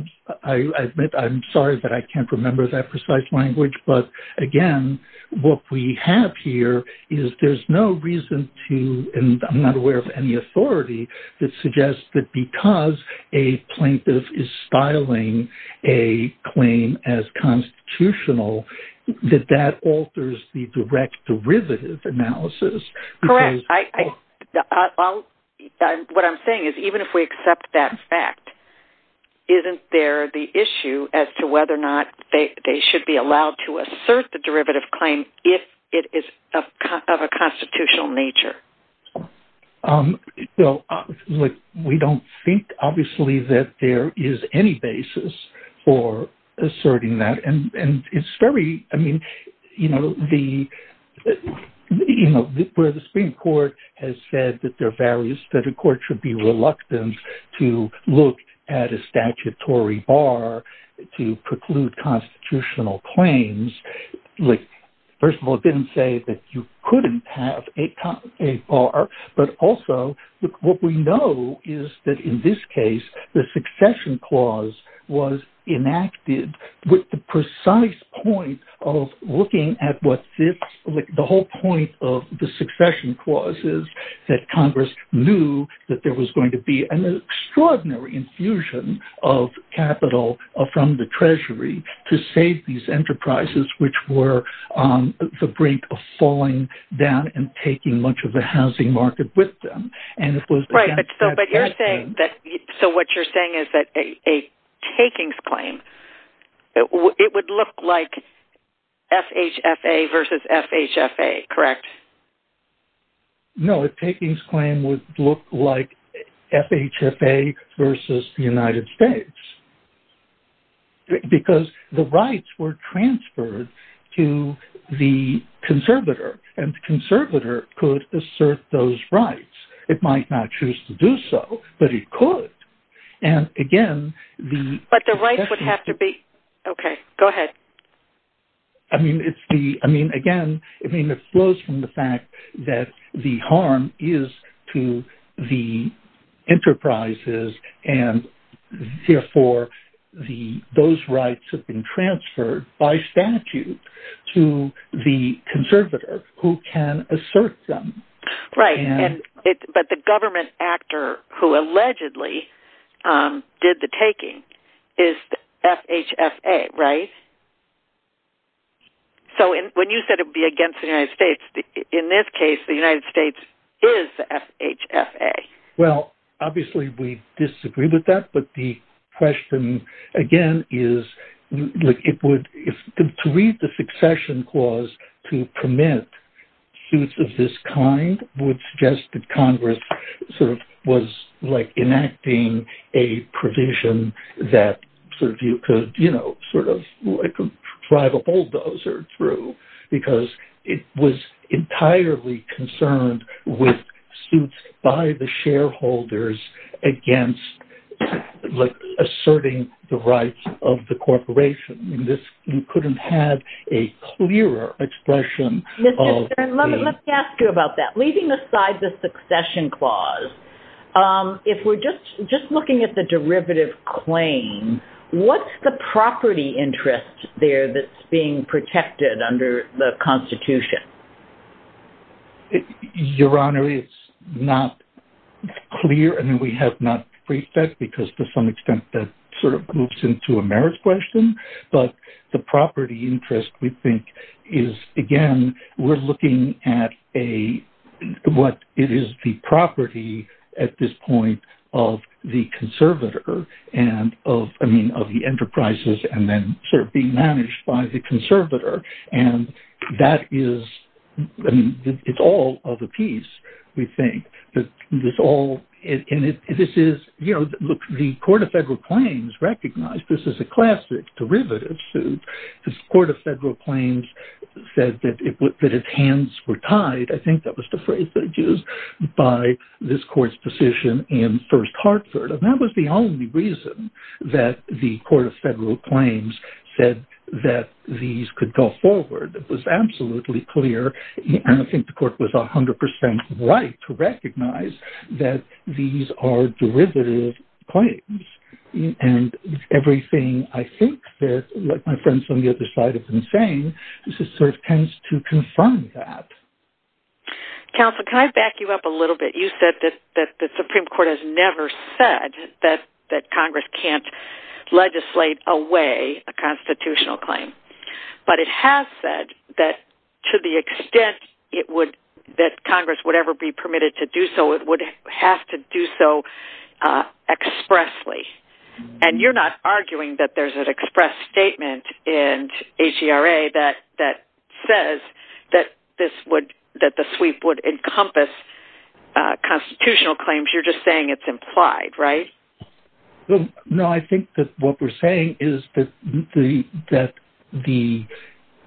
I admit I'm sorry, but I can't remember that precise language. But again, what we have here is there's no reason to, and I'm not aware of any authority, that suggests that because a plaintiff is filing a claim as constitutional, that that alters the direct derivative analysis. Correct. What I'm saying is, even if we accept that fact, isn't there the issue as to whether or not they should be allowed to assert the derivative claim if it is of a constitutional nature? We don't think, obviously, that there is any basis for asserting that. Where the Supreme Court has said that there are values, that a court should be reluctant to look at a statutory bar to preclude constitutional claims. First of all, it didn't say that you couldn't have a bar. But also, what we know is that in this case, the succession clause was enacted with the precise point of looking at what fits the whole point of the succession clauses, that Congress knew that there was going to be an extraordinary infusion of capital from the Treasury to save these enterprises, which were on the brink of falling down and taking much of the housing market with them. So what you're saying is that a takings claim, it would look like FHFA versus FHFA, correct? No, a takings claim would look like FHFA versus the United States. Because the rights were transferred to the conservator, and the conservator could assert those rights. It might not choose to do so, but it could. And again, the... But the rights would have to be... OK, go ahead. I mean, it's the... I mean, again, it flows from the fact that the harm is to the enterprises, and therefore those rights have been transferred by statute to the conservator, who can assert them. Right, but the government actor who allegedly did the taking is the FHFA, right? So when you said it would be against the United States, in this case, the United States is the FHFA. Well, obviously, we disagree with that, but the question, again, is... To read the succession clause to permit use of this kind would suggest that Congress sort of was, like, enacting a provision that sort of you could, you know, sort of drive a bulldozer through, because it was entirely concerned with suits by the shareholders against, like, asserting the rights of the corporation. You couldn't have a clearer expression of the... Let me ask you about that. Leaving aside the succession clause, if we're just looking at the derivative claim, what's the property interest there that's being protected under the Constitution? Your Honour, it's not clear, and we have not briefed that, because to some extent that sort of loops into a merit question, but the property interest, we think, is, again, we're looking at what is the property at this point of the conservator, I mean, of the enterprises, and then sort of being managed by the conservator, and that is, I mean, it's all of a piece, we think. And this is, you know, look, the Court of Federal Claims recognized this is a classic derivative suit. The Court of Federal Claims said that its hands were tied, I think that was the phrase that it used, by this Court's decision in First Hartford, and that was the only reason that the Court of Federal Claims said that these could go forward. It was absolutely clear, and I think the Court was 100% right to recognize that these are derivative claims. And everything I think that, like my friends on the other side have been saying, this is sort of tends to confirm that. Counsel, can I back you up a little bit? You said that the Supreme Court has never said that Congress can't legislate away a constitutional claim, but it has said that to the extent it would, that Congress would ever be permitted to do so, it would have to do so expressly. And you're not arguing that there's an express statement in ACRA that says that this would, that the sweep would encompass constitutional claims, you're just saying it's implied, right? No, I think that what we're saying is that the,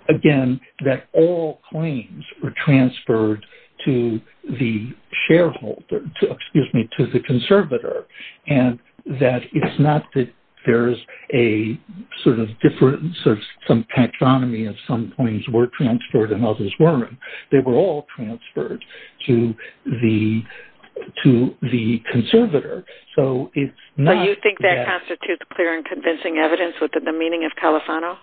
again, that all claims were transferred to the shareholder, excuse me, to the conservator, and that it's not that there's a sort of difference of some patronomy of some claims were transferred and others weren't, they were all transferred to the conservator, so it's not that- So you think that constitutes clear and convincing evidence within the meaning of Califano?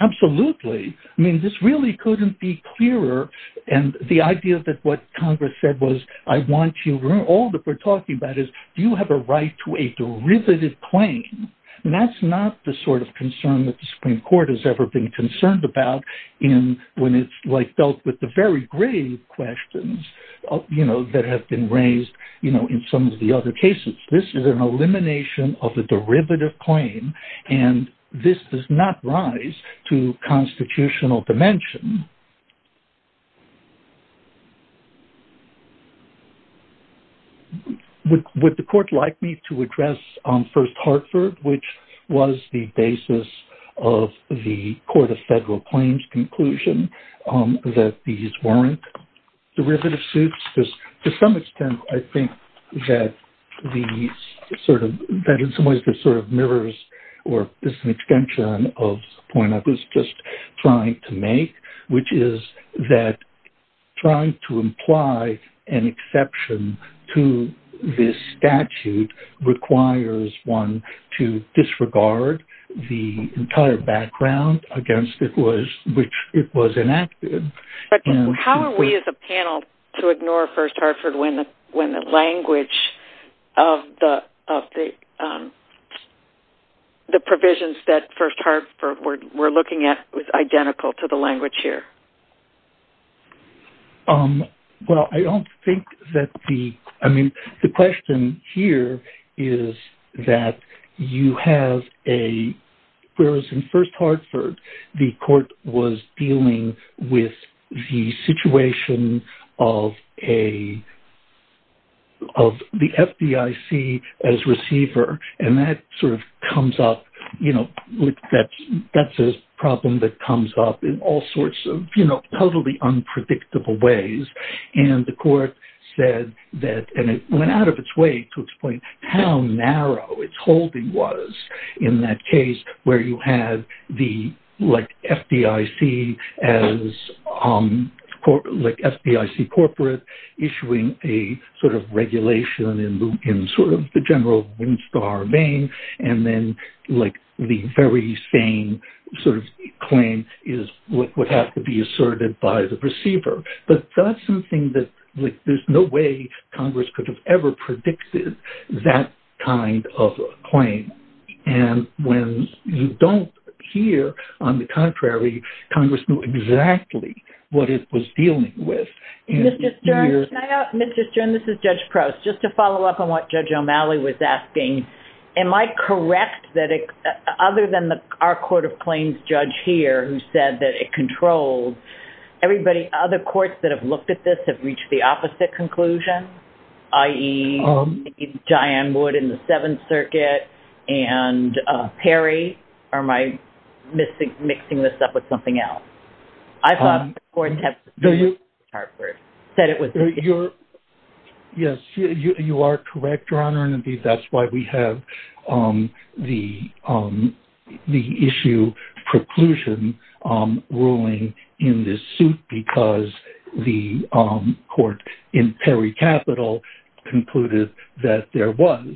Absolutely. I mean, this really couldn't be clearer, and the idea that what Congress said was, I want you, all that we're talking about is, do you have a right to a derivative claim? And that's not the sort of concern that the Supreme Court has ever been concerned about when it's dealt with the very grave questions, you know, that have been raised in some of the other cases. This is an elimination of a derivative claim, and this does not rise to constitutional dimension. Would the court like me to address First Hartford, which was the basis of the Court of Federal Claims conclusion, that these weren't derivative suits? Because to some extent, I think that these sort of, in some ways, this sort of mirrors or is an extension of the point I was just trying to make, which is that trying to imply an exception to this statute requires one to disregard the entire background against which it was enacted. But how are we as a panel to ignore First Hartford when the language of the provisions that First Hartford were looking at was identical to the language here? Well, I don't think that the... I mean, the question here is that you have a... Whereas in First Hartford, the court was dealing with the situation of a... of the FDIC as receiver, and that sort of comes up, you know, that's a problem that comes up in all sorts of, you know, totally unpredictable ways. And the court said that... And it went out of its way to explain how narrow its holding was in that case, where you had the, like, FDIC as court... like, FDIC corporate issuing a sort of regulation in sort of the general Winstar vein, and then, like, the very same sort of claim is what would have to be asserted by the receiver. But that's something that... There's no way Congress could have ever predicted that kind of a claim. And when you don't hear, on the contrary, Congress knew exactly what it was dealing with. Mr. Stern, this is Judge Prowse. Just to follow up on what Judge O'Malley was asking, am I correct that other than our Court of Claims judge here, who said that it controlled, everybody other courts that have looked at this have reached the opposite conclusion? I.e., Diane Wood in the Seventh Circuit and Perry? Or am I mixing this up with something else? Yes, you are correct, Your Honor, and that's why we have the issue, preclusion ruling in this suit, because the court in Perry Capital concluded that there was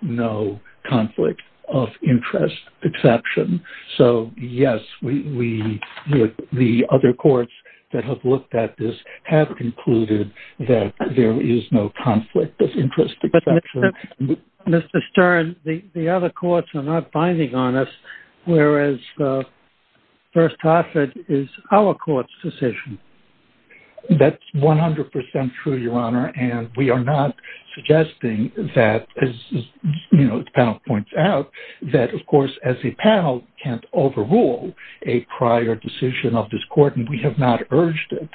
no conflict of interest exception. So, yes, we... The other courts that have looked at this have concluded that there is no conflict of interest exception. Mr. Stern, the other courts are not binding on us, whereas First Hartford is our court's decision. That's 100% true, Your Honor, and we are not suggesting that, as the panel points out, that, of course, as a panel, can't overrule a prior decision of this court, and we have not urged it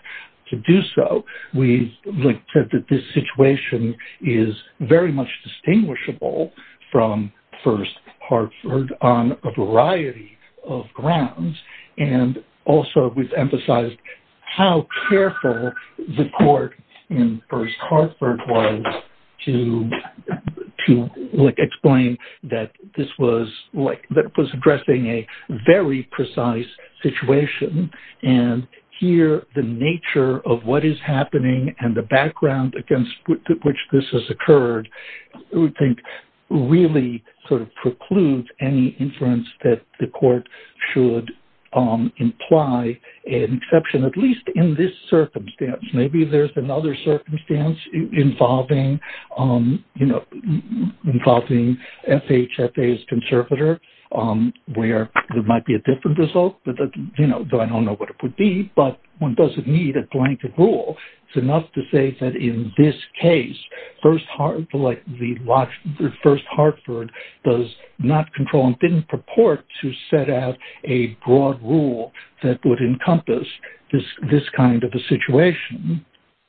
to do so. We've said that this situation is very much distinguishable from First Hartford on a variety of grounds, and also we've emphasized how careful the court in First Hartford was to explain that this was... that it was addressing a very precise situation, and here the nature of what is happening and the background against which this has occurred, we think, really sort of precludes any inference that the court should imply an exception, at least in this circumstance. Maybe there's another circumstance involving, you know, involving FHFA's conservator, where there might be a different result, though I don't know what it would be, but one doesn't need a blanket rule. It's enough to say that in this case, First Hartford does not control and didn't purport to set out a broad rule that would encompass this kind of a situation.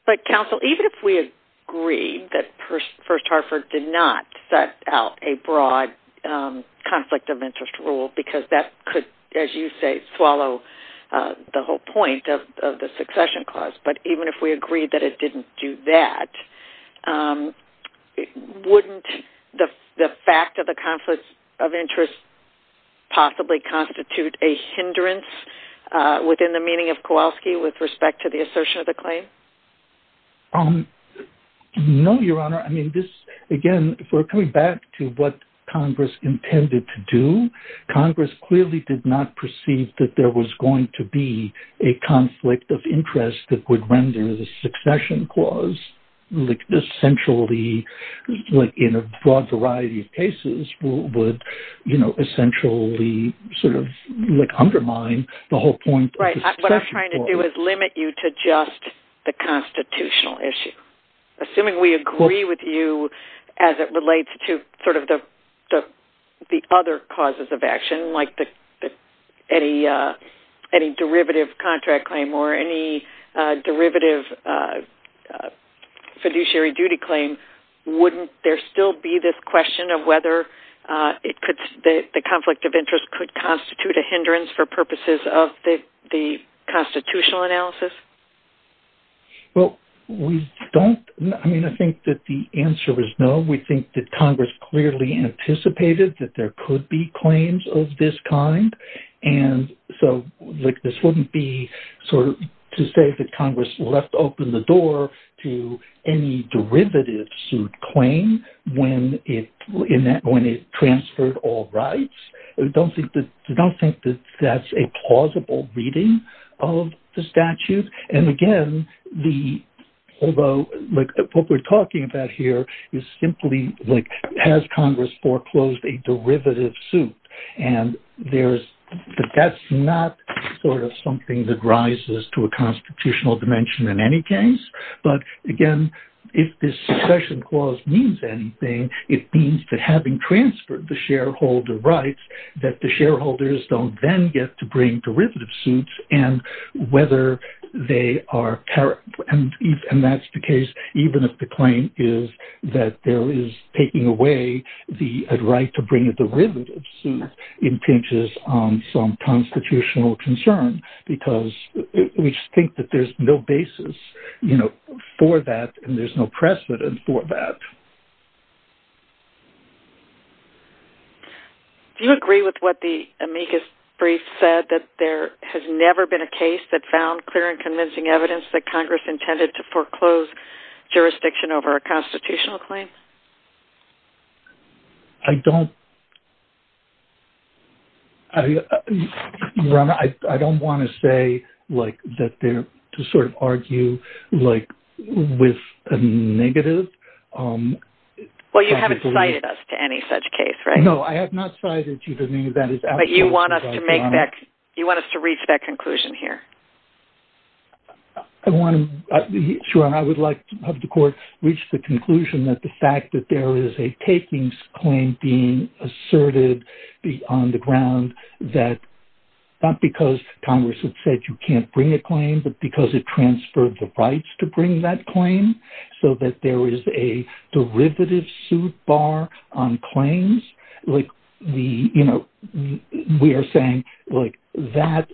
But, counsel, even if we agree that First Hartford did not set out a broad conflict of interest rule, because that could, as you say, swallow the whole point of the succession clause, but even if we agree that it didn't do that, wouldn't the fact of the conflict of interest possibly constitute a hindrance within the meaning of Kowalski with respect to the assertion of the claim? No, Your Honor. I mean, this, again, if we're coming back to what Congress intended to do, Congress clearly did not perceive that there was going to be a conflict of interest that would render the succession clause essentially, in a broad variety of cases, would essentially undermine the whole point of the succession clause. Right. What I'm trying to do is limit you to just the constitutional issue. Assuming we agree with you as it relates to the other causes of action, like any derivative contract claim or any derivative fiduciary duty claim, wouldn't there still be this question of whether the conflict of interest could constitute a hindrance for purposes of the constitutional analysis? Well, we don't... I mean, I think that the answer is no. We think that Congress clearly anticipated that there could be claims of this kind, and so this wouldn't be, sort of, to say that Congress left open the door to any derivative suit claim when it transferred all rights. I don't think that that's a plausible reading of the statute. And again, the... Although, what we're talking about here is simply, like, has Congress foreclosed a derivative suit? And that's not, sort of, something that rises to a constitutional dimension in any case. But again, if this succession clause means anything, it means that having transferred the shareholder rights, that the shareholders don't then get to bring derivative suits, and whether they are... And that's the case even if the claim is that there is taking away the right to bring a derivative suit impinges on some constitutional concern, because we think that there's no basis, you know, for that, and there's no precedent for that. Do you agree with what the amicus brief said, that there has never been a case that found clear and convincing evidence that Congress intended to foreclose jurisdiction over a constitutional claim? I don't... I don't want to say, like, that there... To sort of argue, like, with a negative... Well, you haven't cited us to any such case, right? No, I have not cited you to any of that. But you want us to make that... You want us to reach that conclusion here? I want to... Sure. And I would like to have the Court reach the conclusion that the fact that there is a takings claim being asserted on the ground, that not because Congress had said you can't bring a claim, but because it transferred the rights to bring that claim, so that there is a derivative suit bar on claims. Like, we, you know, we are saying, like, that...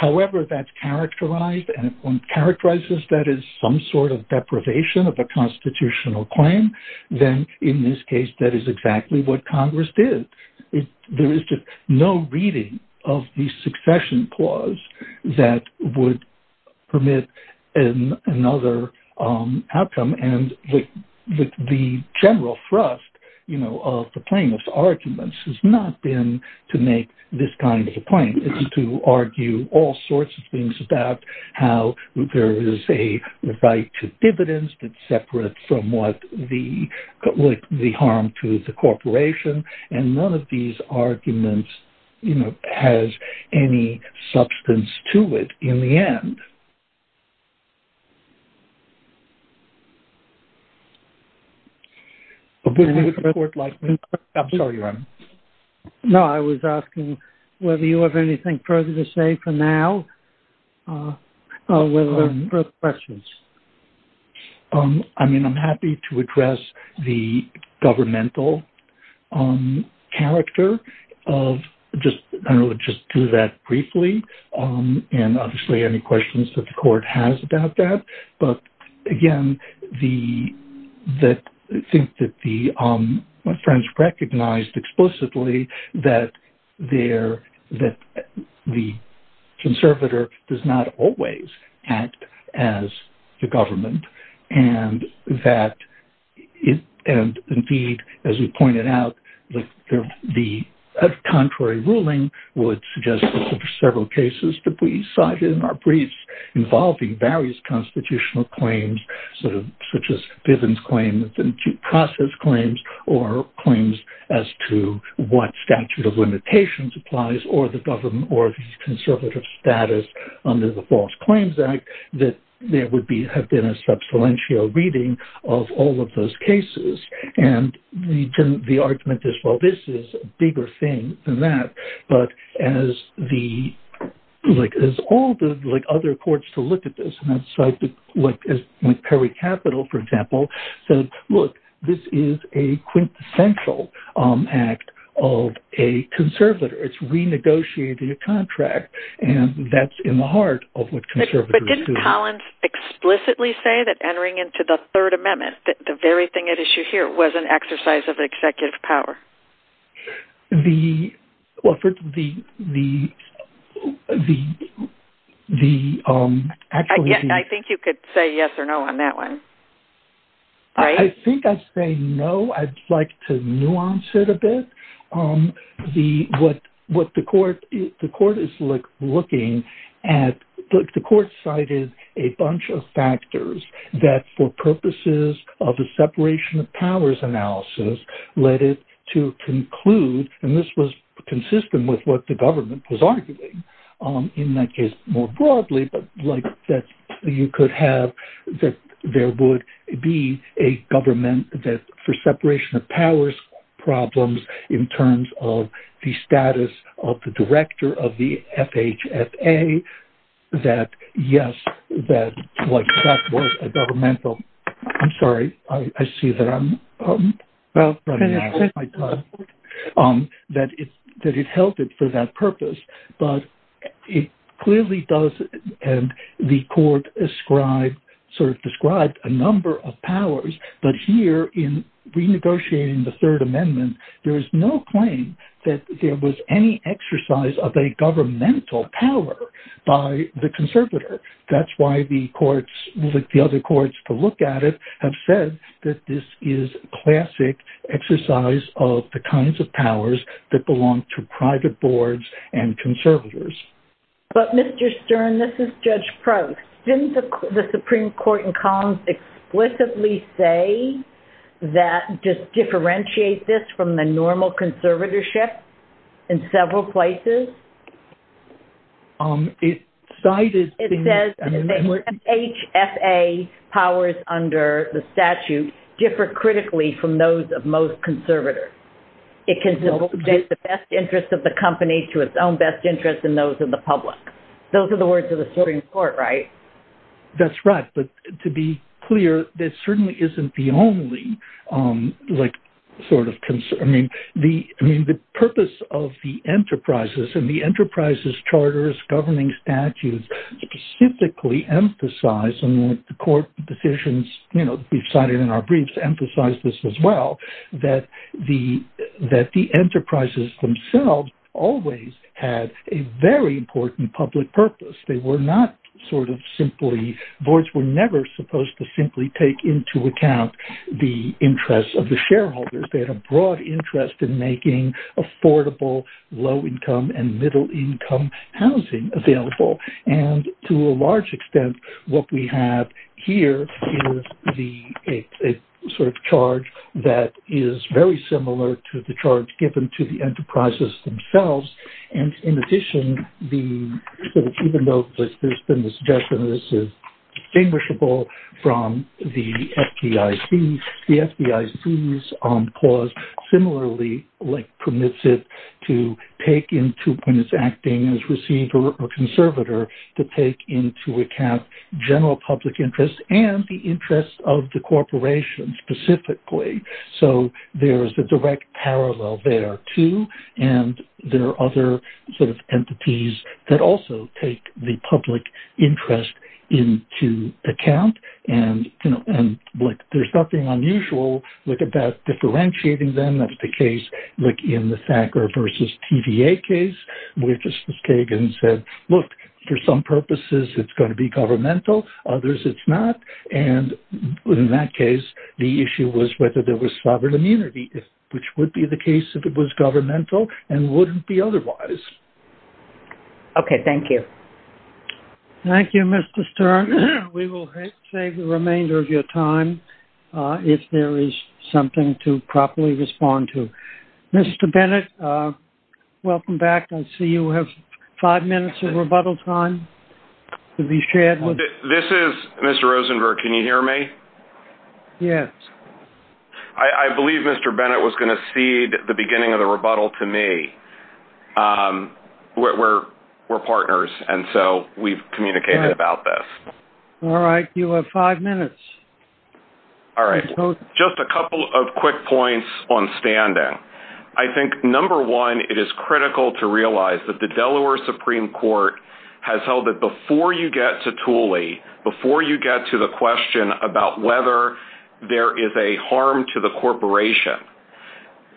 However that's characterized, and characterizes that as some sort of deprivation of a constitutional claim, then in this case that is exactly what Congress did. There is no reading of the succession clause that would permit another outcome. And the general thrust, you know, of the plaintiff's arguments has not been to make this kind of a claim. It's to argue all sorts of things about how there is a right to dividends that's separate from what the harm to the corporation. And none of these arguments, you know, has any substance to it in the end. No, I was asking whether you have anything further to say for now. Well, I have questions. I mean, I'm happy to address the governmental character of... I'll just do that briefly, and obviously any questions that the Court has about that. But again, I think that the French recognized explicitly that the conservator does not always act as the government, and that, indeed, as you pointed out, the contrary ruling would suggest that there are several cases that we cited in our briefs involving various constitutional claims, such as Bivens' claim and Chikasa's claims, or claims as to what statute of limitations applies or the conservative status under the False Claims Act, that there would have been a substantial reading of all of those cases. And the argument is, well, this is a bigger thing than that. But as all the other courts to look at this, like with Peri Capital, for example, said, look, this is a quintessential act of a conservator. It's renegotiating a contract, and that's in the heart of what conservators do. But didn't Collins explicitly say that entering into the Third Amendment, the very thing at issue here, was an exercise of executive power? I think you could say yes or no on that one. I think I'd say no. I'd like to nuance it a bit. What the court is looking at, the court cited a bunch of factors that, for purposes of a separation of powers analysis, led it to conclude, and this was consistent with what the government was arguing, in that case more broadly, that you could have, that there would be a government, that for separation of powers problems, in terms of the status of the director of the FHSA, that yes, that was a governmental, I'm sorry, I see that I'm out running out of my time, that it held it for that purpose. But it clearly does, and the court described a number of powers, but here in renegotiating the Third Amendment, there is no claim that there was any exercise of a governmental power by the conservator. That's why the courts, the other courts to look at it, have said that this is a classic exercise of the kinds of powers that belong to private boards and conservators. But Mr. Stern, this is Judge Prok, didn't the Supreme Court in Collins explicitly say, that just differentiate this from the normal conservatorship, in several places? It says that FHSA powers under the statute, differ critically from those of most conservators. It can do the best interest of the company, to its own best interest and those of the public. Those are the words of the Supreme Court, right? That's right, but to be clear, that certainly isn't the only concern. The purpose of the enterprises, and the enterprises, charters, governing statutes, specifically emphasize, and the court decisions, we've cited in our briefs, emphasize this as well, that the enterprises themselves, always had a very important public purpose. They were not sort of simply, boards were never supposed to simply take into account, the interests of the shareholders. They had a broad interest in making affordable, low income and middle income housing available. And to a large extent, what we have here, is a sort of charge that is very similar, to the charge given to the enterprises themselves. And in addition, even though there's been the suggestion, that this is distinguishable from the FBIC, the FBIC's clause similarly permits it, to take into, in its acting as receiver or conservator, to take into account general public interest, and the interest of the corporation specifically. So there's a direct parallel there too, and there are other sort of entities, that also take the public interest into account. And there's nothing unusual, with about differentiating them, that's the case, like in the Thacker versus TVA case, where Justice Kagan said, look, for some purposes, it's gonna be governmental, others it's not. And in that case, the issue was, whether there was sovereign immunity, which would be the case if it was governmental, and wouldn't be otherwise. Okay, thank you. Thank you, Mr. Stern. We will save the remainder of your time, if there is something to properly respond to. Mr. Bennett, welcome back. I see you have five minutes of rebuttal time. This is Mr. Rosenberg, can you hear me? Yes. I believe Mr. Bennett was gonna cede, the beginning of the rebuttal to me. We're partners, and so we've communicated about this. All right, you have five minutes. All right, just a couple of quick points on standing. I think number one, it is critical to realize, that the Delaware Supreme Court, has held that before you get to Thule, before you get to the question, about whether there is a harm to the corporation.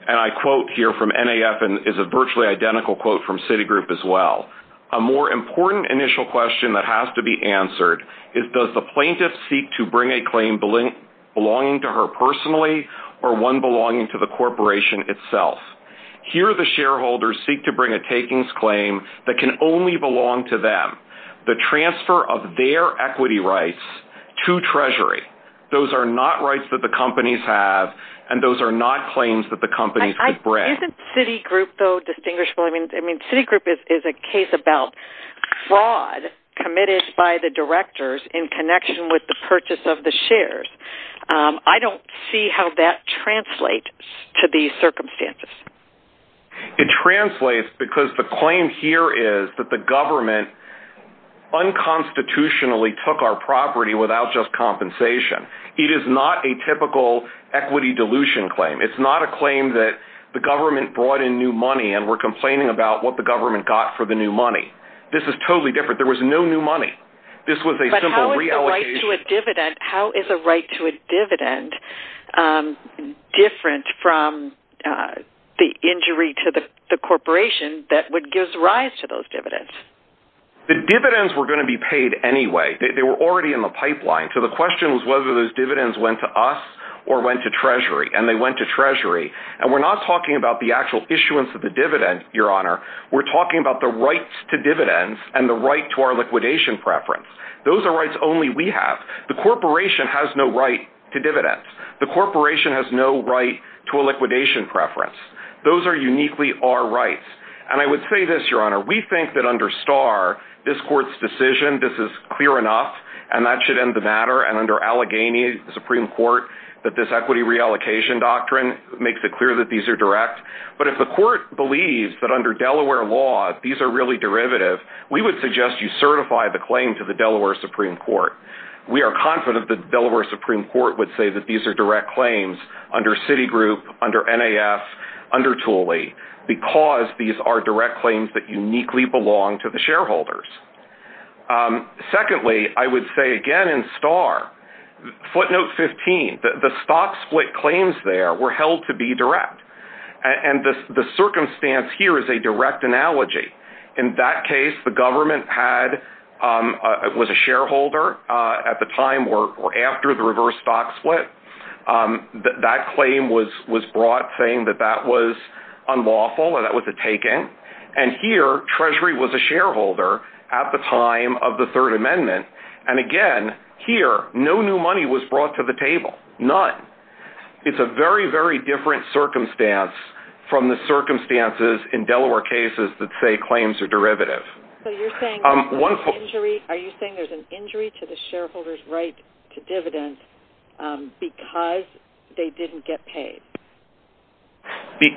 And I quote here from NAF, and is a virtually identical quote from Citigroup as well. A more important initial question, that has to be answered, is does the plaintiff seek to bring a claim, belonging to her personally, or one belonging to the corporation itself? Here the shareholders seek to bring a takings claim, that can only belong to them. The transfer of their equity rights to treasury, those are not rights that the companies have, and those are not claims that the companies could bring. Isn't Citigroup though distinguishable? I mean Citigroup is a case about fraud, committed by the directors, in connection with the purchase of the shares. I don't see how that translates, to these circumstances. It translates because the claim here is, that the government, unconstitutionally took our property, without just compensation. It is not a typical equity dilution claim. It's not a claim that, the government brought in new money, and we're complaining about, what the government got for the new money. This is totally different, there was no new money. This was a simple reallocation. How is a right to a dividend, different from the injury to the corporation, that would give rise to those dividends? The dividends were going to be paid anyway, they were already in the pipeline. So the question was, whether those dividends went to us, or went to treasury, and they went to treasury. And we're not talking about, the actual issuance of the dividend, your honor. We're talking about the rights to dividends, and the right to our liquidation preference. Those are rights only we have. The corporation has no right to dividends. The corporation has no right, to a liquidation preference. Those are uniquely our rights. And I would say this your honor, we think that under Starr, this court's decision, this is clear enough, and that should end the matter, and under Allegheny, the Supreme Court, that this equity reallocation doctrine, makes it clear that these are direct. But if the court believes, that under Delaware law, these are really derivative, we would suggest you certify the claim, to the Delaware Supreme Court. We are confident that, Delaware Supreme Court would say, that these are direct claims, under Citigroup, under NAS, under Thule, because these are direct claims, that uniquely belong to the shareholders. Secondly, I would say again in Starr, footnote 15, the stop split claims there, were held to be direct. And the circumstance here, is a direct analogy. In that case, the government had, was a shareholder, at the time, or after the reverse stock split. That claim was brought, saying that, that was unlawful, or that was a taking. And here, Treasury was a shareholder, at the time, of the third amendment. And again, here, no new money was brought to the table. None. It's a very, very different circumstance, from the circumstances, in Delaware cases, that say claims are derivative. So you're saying, there's an injury, are you saying there's an injury, to the shareholder's right, to dividends, because, they didn't get paid?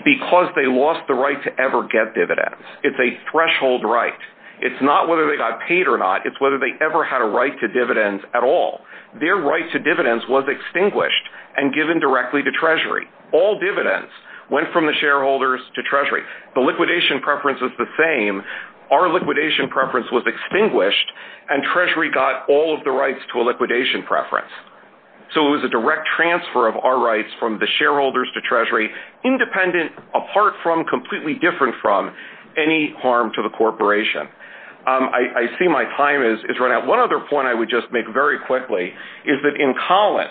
Because they lost the right, to ever get dividends. It's a threshold right. It's not whether they got paid, or not. It's whether they ever had a right, to dividends at all. Their right to dividends, was extinguished, and given directly to Treasury. All dividends, went from the shareholders, to Treasury. The liquidation preference, was the same. Our liquidation preference, was extinguished, and Treasury got, all of the rights, to a liquidation preference. So it was a direct transfer, of our rights, from the shareholders, to Treasury. Independent, apart from, completely different from, any harm, to the corporation. I see my time, is running out. One other point, I would just make very quickly, is that in Collins,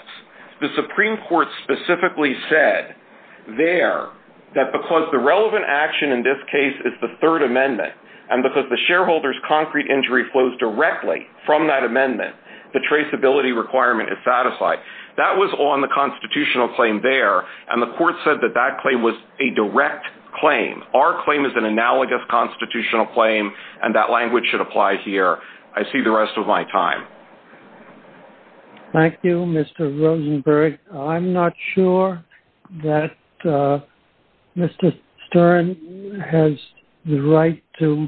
the Supreme Court, specifically said, there, that because, the relevant action, in this case, is the third amendment, and because the shareholders, concrete injury, flows directly, from that amendment, the traceability requirement, is satisfied. That was on, the constitutional claim, there, and the court said, that that claim, was a direct claim. Our claim, is an analogous, constitutional claim, and that language, should apply here. I see the rest, of my time. Thank you, Mr. Rosenberg. I'm not sure, that, Mr. Stern, has, the right, to,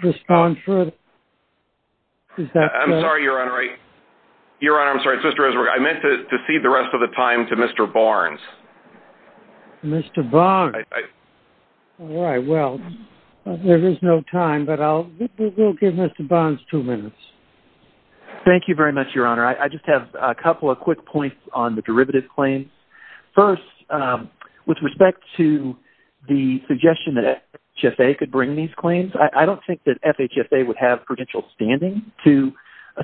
respond, for it. I'm sorry, Your Honor, Your Honor, I'm sorry, Mr. Rosenberg, I meant, to cede the rest, of the time, to Mr. Barnes. Mr. Barnes. All right, well, there is no time, but I'll, give Mr. Barnes, two minutes. Thank you, very much, Your Honor. I just have, a couple of quick points, on the derivative claims. First, with respect, to, the suggestion, that FHFA, could bring these claims, I don't think that, FHFA would have, potential standing, to,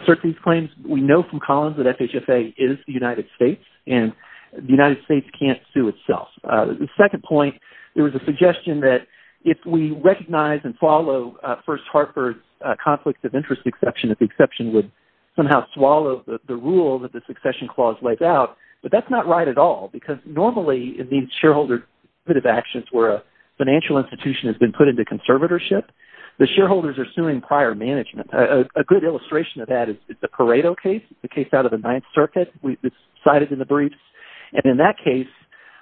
assert these claims. We know from Collins, that FHFA, is the United States, and, the United States, can't sue itself. The second point, there was a suggestion, that, if we recognize, and follow, First Harper's, conflict of interest exception, that the exception would, somehow swallow, the rule, that the succession clause, lays out, but that's not right at all, because normally, in these shareholder, derivative actions, where a, financial institution, has been put into conservatorship, the shareholders are suing, prior management. A, good illustration of that, is the Pareto case, the case out of the Ninth Circuit, we, cited in the briefs, and in that case,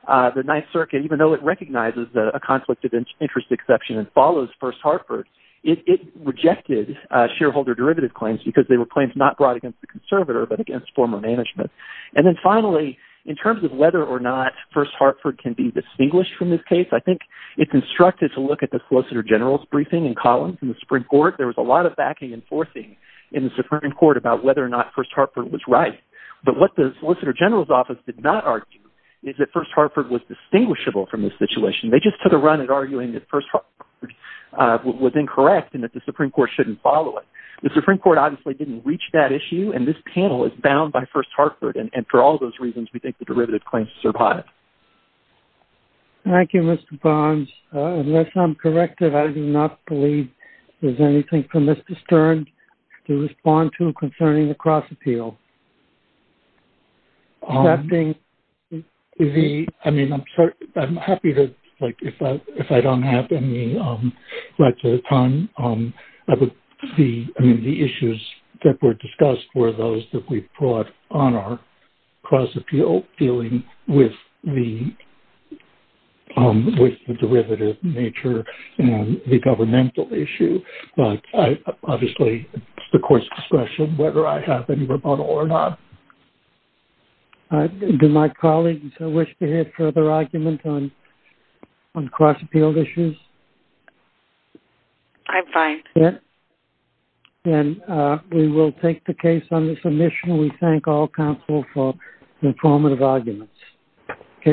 the Ninth Circuit, even though it recognizes, a conflict of interest exception, and follows, First Harper's, it, rejected, shareholder derivative claims, because they were claims, not brought against, the conservator, but against former management. And then finally, in terms of whether, or not, First Hartford, can be distinguished, from this case, I think it's instructed, to look at the Solicitor General's, briefing and columns, in the Supreme Court, there was a lot of backing, and forcing, in the Supreme Court, about whether or not, First Hartford was right, but what the Solicitor General's, office did not argue, is that First Hartford, was distinguishable, from this situation. They just took a run, at arguing that First Hartford, was incorrect, and that the Supreme Court, shouldn't follow it. The Supreme Court, obviously, didn't reach that issue, and this panel, is bound by First Hartford, and for all those reasons, we think the derivative, claims to survive. Thank you, Mr. Barnes. Unless I'm corrected, I do not believe, there's anything, from Mr. Stern, to respond to, concerning the cross appeal. That being, the, I mean, I'm happy to, like, if I don't have any, right to the time, were those, that we've brought, on our cross appeal, to the Supreme Court, and I'm happy, to respond, to that. Thank you. Thank you. I'm still dealing, with the, with the derivative, nature, and the governmental issue, but I, the court's discretion, whether I have, any rebuttal, or not. Do my colleagues, wish to hear, further argument, on, on the submission. We thank all, counsel, for informing us, of that. Thank you. Thank you. Thank you. Thank you. Thank you. Thank you. End of argument. Case admitted.